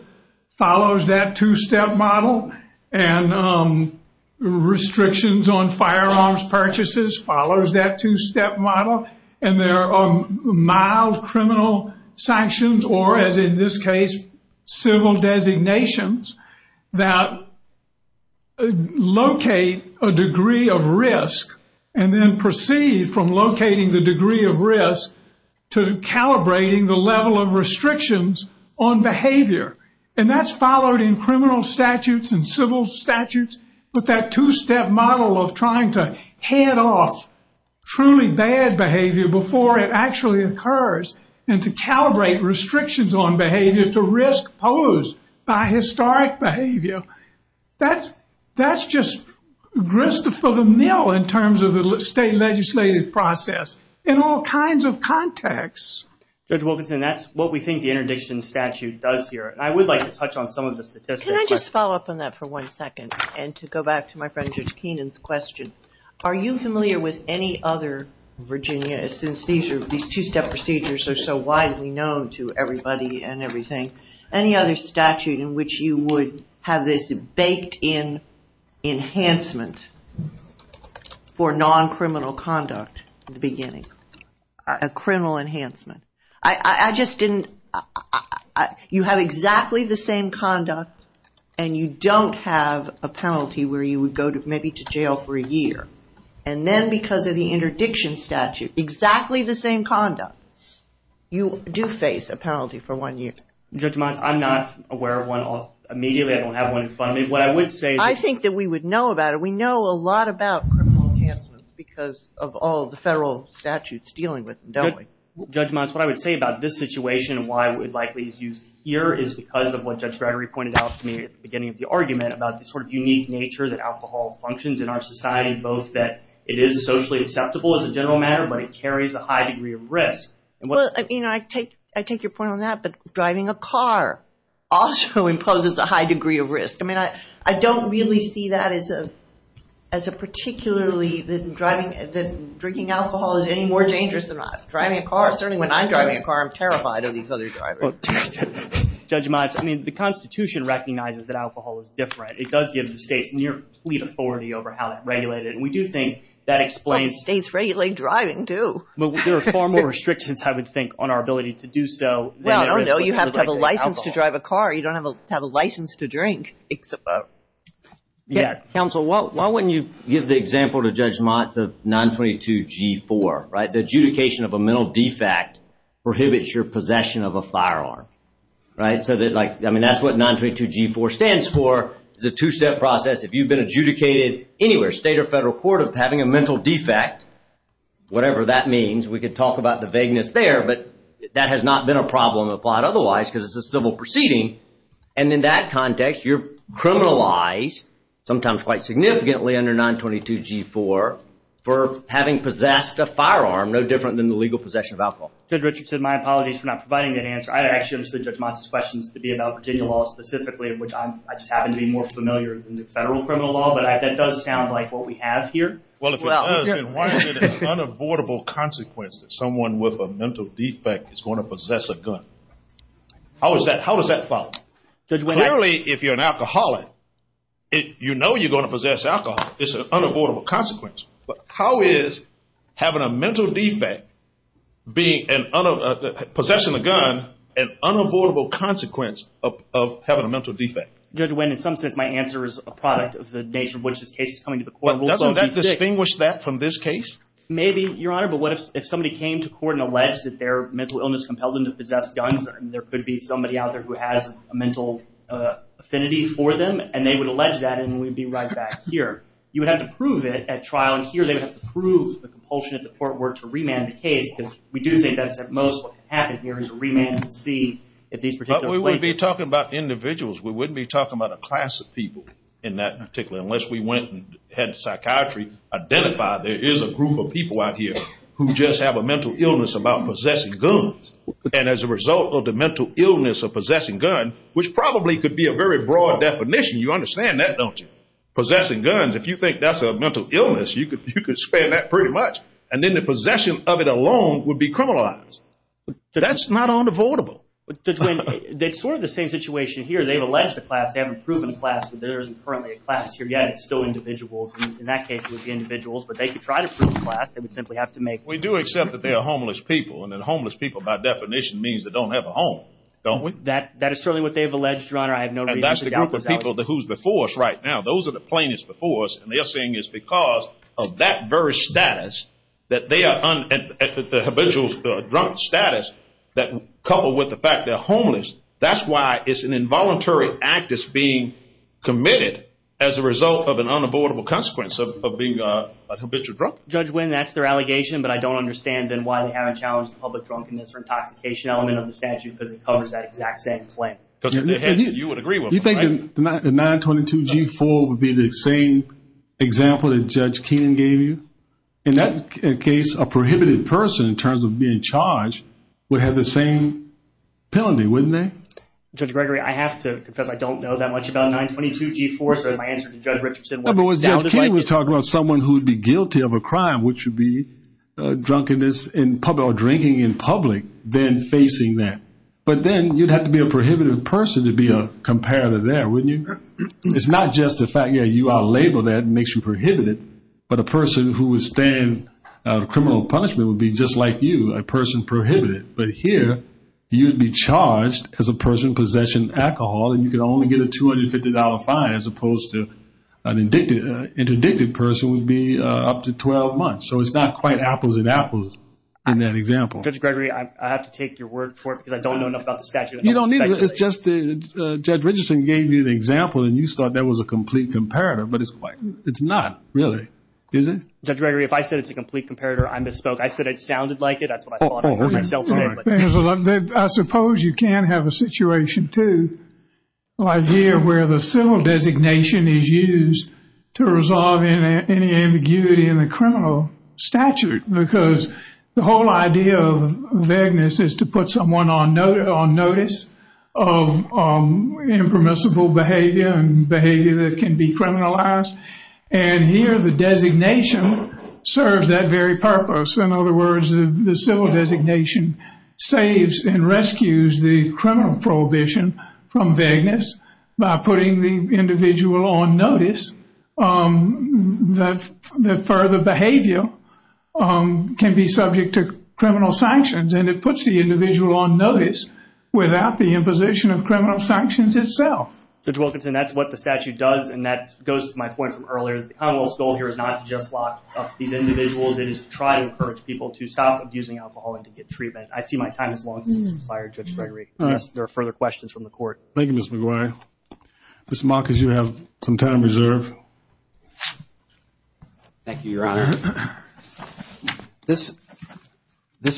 follows that two-step model, and restrictions on firearms purchases follows that two-step model. And there are mild criminal sanctions, or as in this case, civil designations that locate a degree of risk and then proceed from locating the degree of risk to calibrating the level of restrictions on behavior. And that's followed in criminal statutes and civil statutes with that two-step model of trying to head off truly bad behavior before it actually occurs and to calibrate restrictions on behavior to risk posed by historic behavior. That's just Christopher the Mill in terms of the state legislative process in all kinds of contexts. Judge Wilkinson, that's what we think the interdiction statute does here. And I would like to touch on some of the statistics. Can I just follow up on that for one second and to go back to my friend, Judge Keenan's question? Are you familiar with any other, Virginia, since these two-step procedures are so widely known to everybody and I'm not familiar with this baked in enhancement for non-criminal conduct in the beginning, a criminal enhancement. I just didn't, you have exactly the same conduct and you don't have a penalty where you would go maybe to jail for a year. And then because of the interdiction statute, exactly the same conduct, you do face a penalty for one year. Judge Mons, I'm not aware of one immediately. I don't have one in front of me. I think that we would know about it. We know a lot about criminal enhancements because of all the federal statutes dealing with them, don't we? Judge Mons, what I would say about this situation and why it would likely be used here is because of what Judge Gregory pointed out to me at the beginning of the argument about the sort of unique nature that alcohol functions in our society, both that it is socially acceptable as a general matter, but it carries a high degree of risk. I take your point on that, but driving a car also imposes a high degree of risk. I mean, I don't really see that as a particularly, that drinking alcohol is any more dangerous than driving a car. Certainly when I'm driving a car, I'm terrified of these other drivers. Judge Mons, I mean, the Constitution recognizes that alcohol is different. It does give the state near complete authority over how to regulate it. We do think that explains... States regulate driving too. There are far more restrictions, I would think, on our ability to do so. Well, I don't know. You have to have a license to drive a car. You don't have a license to drink. Counsel, why wouldn't you... Give the example to Judge Mons of 922G4, right? The adjudication of a mental defect prohibits your possession of a firearm, right? I mean, that's what 922G4 stands for. It's a two-step process. If you've been adjudicated anywhere, state or federal court, having a mental defect, whatever that means, we could talk about the vagueness there, but that has not been a problem applied otherwise because it's a civil proceeding. And in that context, you're criminalized, sometimes quite significantly under 922G4, for having possessed a firearm no different than the legal possession of alcohol. Judge Richardson, my apologies for not providing that answer. I actually understood Judge Mons' question to be about Virginia law specifically, of which I just happen to be more familiar than the federal criminal law, but that does sound like what we have here. Well, if it does, then why is it an unavoidable consequence that someone with a mental defect is going to possess a gun? How does that follow? Clearly, if you're an alcoholic, you know you're going to possess alcohol. It's an unavoidable consequence. But how is having a mental defect, possession of a gun, an unavoidable consequence of having a mental defect? Judge Wynn, in some sense, my answer is a product of the nature of which this case is coming to the court. Doesn't that distinguish that from this case? Maybe, Your Honor, but what if somebody came to court and alleged that their mental illness compelled them to possess guns? There could be somebody out there who has a mental affinity for them, and they would allege that, and we'd be right back here. You would have to prove it at trial, and here they would have to prove the compulsion of the court were it to remand the case, because we do think that's at most what can happen here is a remand to see if these particular— But we wouldn't be talking about individuals. We wouldn't be talking about a class of people in that particular— unless we went and had psychiatry identify there is a group of people out here who just have a mental illness about possessing guns, and as a result of the mental illness of possessing a gun, which probably could be a very broad definition. You understand that, don't you? Possessing guns, if you think that's a mental illness, you could spread that pretty much, and then the possession of it alone would be criminalized. That's not unavoidable. That's sort of the same situation here. They've alleged a class. They haven't proven a class. There isn't currently a class here yet. It's still individuals. In that case, it would be individuals, but they could try to prove a class. They would simply have to make— We do accept that they are homeless people, and then homeless people, by definition, means they don't have a home. Don't we? That is certainly what they have alleged, Your Honor. I have no doubt about that. And that's the group of people who's before us right now. Those are the plaintiffs before us, and they're saying it's because of that very status that they are at the habitual drunk status, coupled with the fact they're homeless. That's why it's an involuntary act that's being committed as a result of an unavoidable consequence of being a habitual drunk. Judge Winn, that's their allegation, but I don't understand, then, why they haven't challenged the public drunkenness or intoxication element of the statute because it covers that exact same claim. You would agree with me, right? You think the 922-G4 would be the same example that Judge King gave you? In that case, a prohibited person, in terms of being charged, would have the same penalty, wouldn't they? Judge Gregory, I have to, because I don't know that much about 922-G4, so my answer to Judge Richardson was down to the point. Well, Judge King was talking about someone who would be guilty of a crime, which would be drunkenness in public or drinking in public, then facing that. But then you'd have to be a prohibited person to be a comparator there, wouldn't you? It's not just the fact, yeah, you out-label that, it makes you prohibited, but a person who would stand criminal punishment would be just like you, a person prohibited. But here, you'd be charged as a person possessing alcohol, and you could only get a $250 fine, as opposed to an interdicted person would be up to 12 months. So it's not quite apples and apples in that example. Judge Gregory, I have to take your word for it, because I don't know enough about the statute. You don't need to. It's just that Judge Richardson gave you the example, and you thought that was a complete comparator, but it's not, really, is it? Judge Gregory, if I said it's a complete comparator, I misspoke. I said it sounded like it. That's what I thought. I suppose you can have a situation, too, where the civil designation is used to resolve any ambiguity in the criminal statute, because the whole idea of vagueness is to put someone on notice of impermissible behavior and behavior that can be criminalized. And here, the designation serves that very purpose. In other words, the civil designation saves and rescues the criminal prohibition from vagueness by putting the individual on notice that further behavior can be subject to criminal sanctions. And it puts the individual on notice without the imposition of criminal sanctions itself. Judge Wilkinson, that's what the statute does, and that goes to my point from earlier. The Commonwealth's goal here is not to just lock up these individuals. It is to try to encourage people to stop abusing alcohol and to get treatment. I see my time has long since expired, Judge Gregory. If there are further questions from the Court. Thank you, Mr. McGuire. Mr. Malkus, you have some time reserved. Thank you, Your Honor. This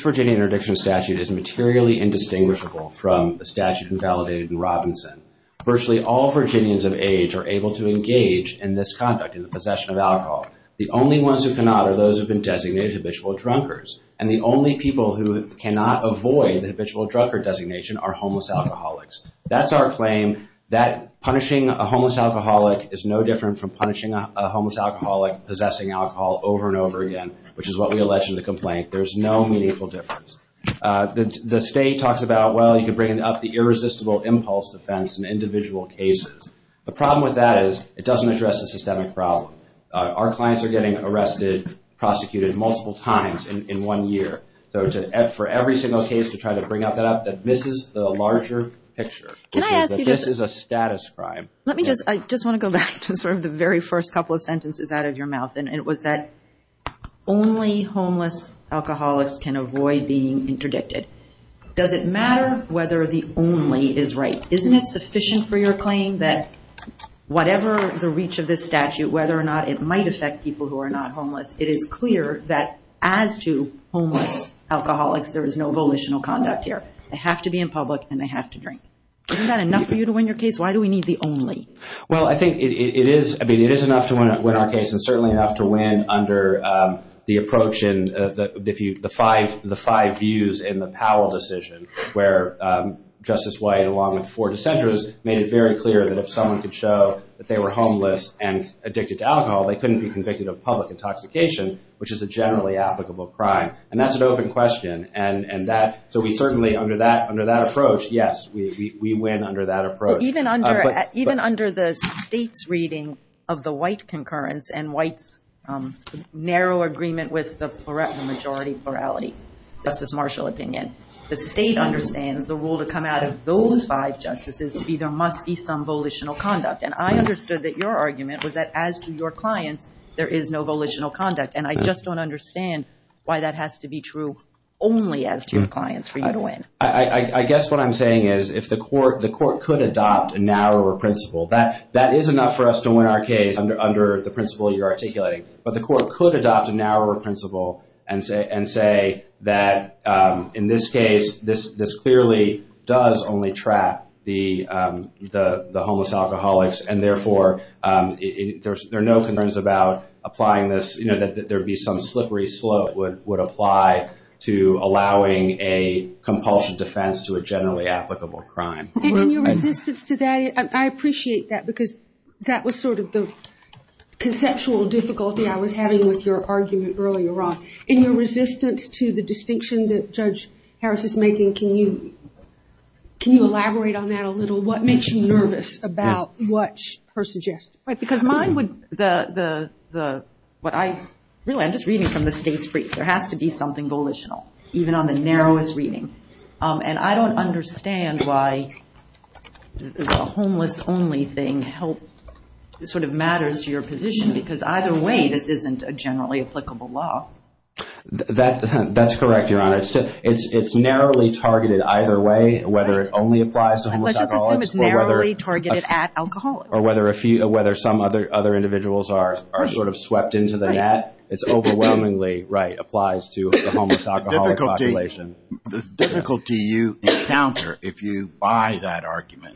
Virginia interdiction statute is materially indistinguishable from the statute invalidated in Robinson. Virtually all Virginians of age are able to engage in this conduct, in the possession of alcohol. The only ones who cannot are those who have been designated habitual drunkards, and the only people who cannot avoid the habitual drunkard designation are homeless alcoholics. That's our claim that punishing a homeless alcoholic is no different from possessing alcohol over and over again, which is what we allege in the complaint. There's no meaningful difference. The state talks about, well, you can bring up the irresistible impulse defense in individual cases. The problem with that is it doesn't address the systemic problem. Our clients are getting arrested, prosecuted multiple times in one year, so for every single case to try to bring that up, this is the larger picture. This is a status crime. I just want to go back to sort of the very first couple of sentences out of your mouth, and it was that only homeless alcoholics can avoid being interdicted. Does it matter whether the only is right? Isn't it sufficient for your claim that whatever the reach of this statute, whether or not it might affect people who are not homeless, it is clear that as to homeless alcoholics, there is no volitional conduct here. They have to be in public and they have to drink. Isn't that enough for you to win your case? Why do we need the only? Well, I think it is. I mean, it is enough to win our case and certainly enough to win under the approach and the five views in the Powell decision where Justice White, along with four dissenters, made it very clear that if someone could show that they were homeless and addicted to alcohol, they couldn't be convicted of public intoxication, which is a generally applicable crime. And that's an open question. And that, so we certainly under that approach, yes, we win under that approach. Even under the state's reading of the White concurrence and White's narrow agreement with the majority plurality, Justice Marshall's opinion, the state understands the rule to come out of those five justices either must be some volitional conduct. And I understood that your argument was that as to your client, there is no volitional conduct. And I just don't understand why that has to be true only as to the client. I guess what I'm saying is if the court could adopt a narrower principle, that is enough for us to win our case under the principle you're articulating. But the court could adopt a narrower principle and say that in this case, this clearly does only trap the homeless alcoholics. And therefore, there are no concerns about applying this, you know, that there would be some slippery slope would apply to allowing a compulsion defense to a generally applicable crime. In your resistance to that, I appreciate that because that was sort of the conceptual difficulty I was having with your argument earlier on. In your resistance to the distinction that Judge Harris is making, can you elaborate on that a little? What makes you nervous about what her suggestion? Right, because mine would, the, what I, really, I'm just reading from the state's brief. There has to be something volitional, even on the narrowest reading. And I don't understand why the homeless only thing helps, sort of matters to your position because either way, this isn't a generally applicable law. That's correct, Your Honor. It's narrowly targeted either way, whether it only applies to homeless alcoholics. Or whether some other individuals are sort of swept into the net. It overwhelmingly applies to the homeless alcoholic population. The difficulty you encounter if you buy that argument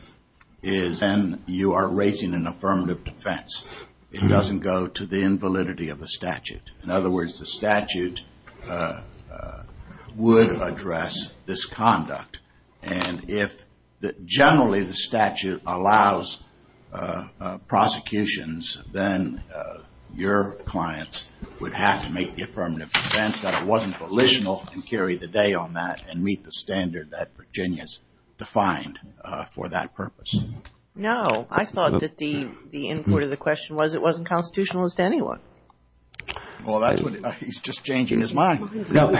is then you are raising an affirmative defense. It doesn't go to the invalidity of the statute. In other words, the statute would address this conduct. And if generally the statute allows prosecutions, then your client would have to make the affirmative defense that it wasn't volitional and carry the day on that and meet the standard that Virginia's defined for that purpose. No, I thought that the input of the question was it wasn't constitutionalist to anyone. Well, he's just changing his mind. No,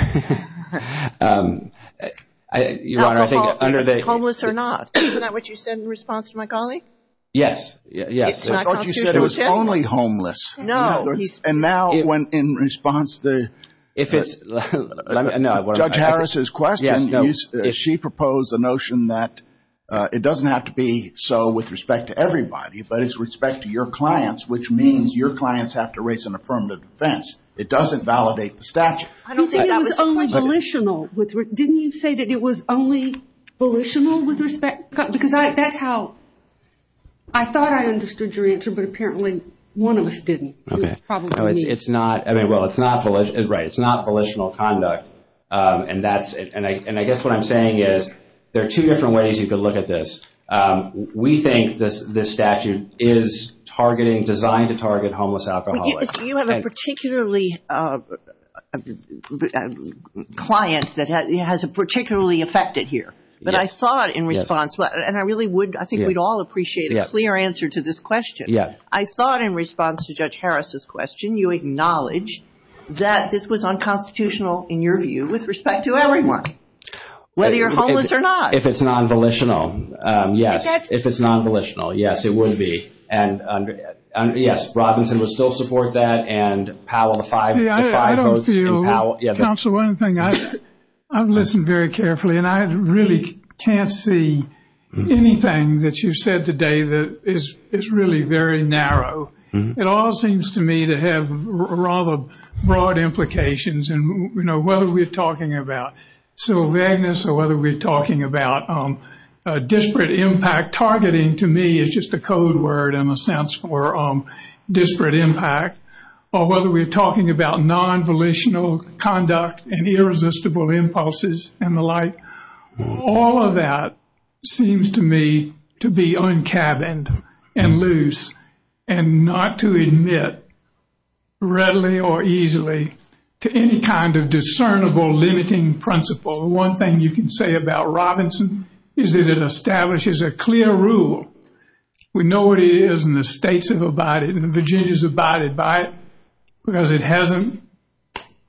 Your Honor. Homeless or not, isn't that what you said in response to my colleague? Yes, yes. I thought you said it was only homeless. No. And now in response to Judge Harris's question, she proposed the notion that it doesn't have to be so with respect to everybody, but it's respect to your clients, which means your clients have to raise an affirmative defense. It doesn't validate the statute. You said it was only volitional. Didn't you say that it was only volitional? Because that's how I thought I understood your answer, but apparently one of us didn't. Okay. Well, it's not volitional. Right, it's not volitional conduct. And I guess what I'm saying is there are two different ways you can look at this. We think this statute is designed to target homeless alcoholics. Do you have a particularly client that has particularly affected here? Yes. But I thought in response, and I really would, I think we'd all appreciate a clear answer to this question. Yes. I thought in response to Judge Harris's question, you acknowledged that this was unconstitutional in your view with respect to everyone, whether you're homeless or not. If it's non-volitional, yes. If it's non-volitional, yes, it would be. And yes, Robinson will still support that and Powell, the five votes. Yeah, I don't feel, Counsel, one thing, I've listened very carefully, and I really can't see anything that you said today that is really very narrow. It all seems to me to have rather broad implications, and whether we're talking about civil vagueness or whether we're talking about disparate impact. Targeting to me is just a code word in a sense for disparate impact, or whether we're talking about non-volitional conduct and irresistible impulses and the like. All of that seems to me to be uncaverned and loose and not to admit readily or easily to any kind of discernible limiting principle. One thing you can say about Robinson is that it establishes a clear rule. We know what it is, and the states have abided, and Virginia has abided by it because it hasn't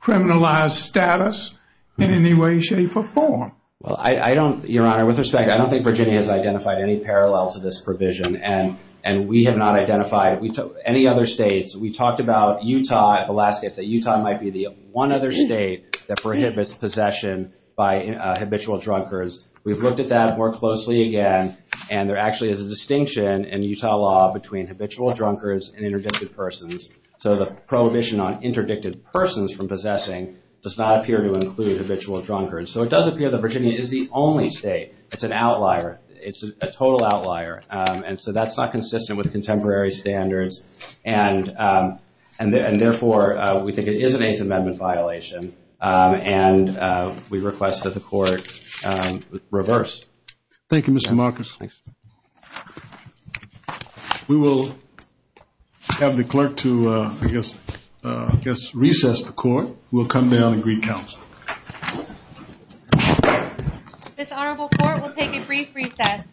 criminalized status in any way, shape, or form. Well, I don't, Your Honor, with respect, I don't think Virginia has identified any parallel to this provision, and we have not identified any other states. We talked about Utah the last day, that Utah might be the one other state that prohibits possession by habitual drunkards. We've looked at that more closely again, and there actually is a distinction in Utah law between habitual drunkards and interdictive persons. So the prohibition on interdictive persons from possessing does not appear to include habitual drunkards. So it does appear that Virginia is the only state. It's an outlier. It's a total outlier. And so that's not consistent with contemporary standards, and therefore, we think it is a main amendment violation, and we request that the court reverse. Thank you, Mr. Marcus. Thanks. We will have the clerk to, I guess, recess the court. We'll come down and re-counsel. This honorable court will take a brief recess. Thank you.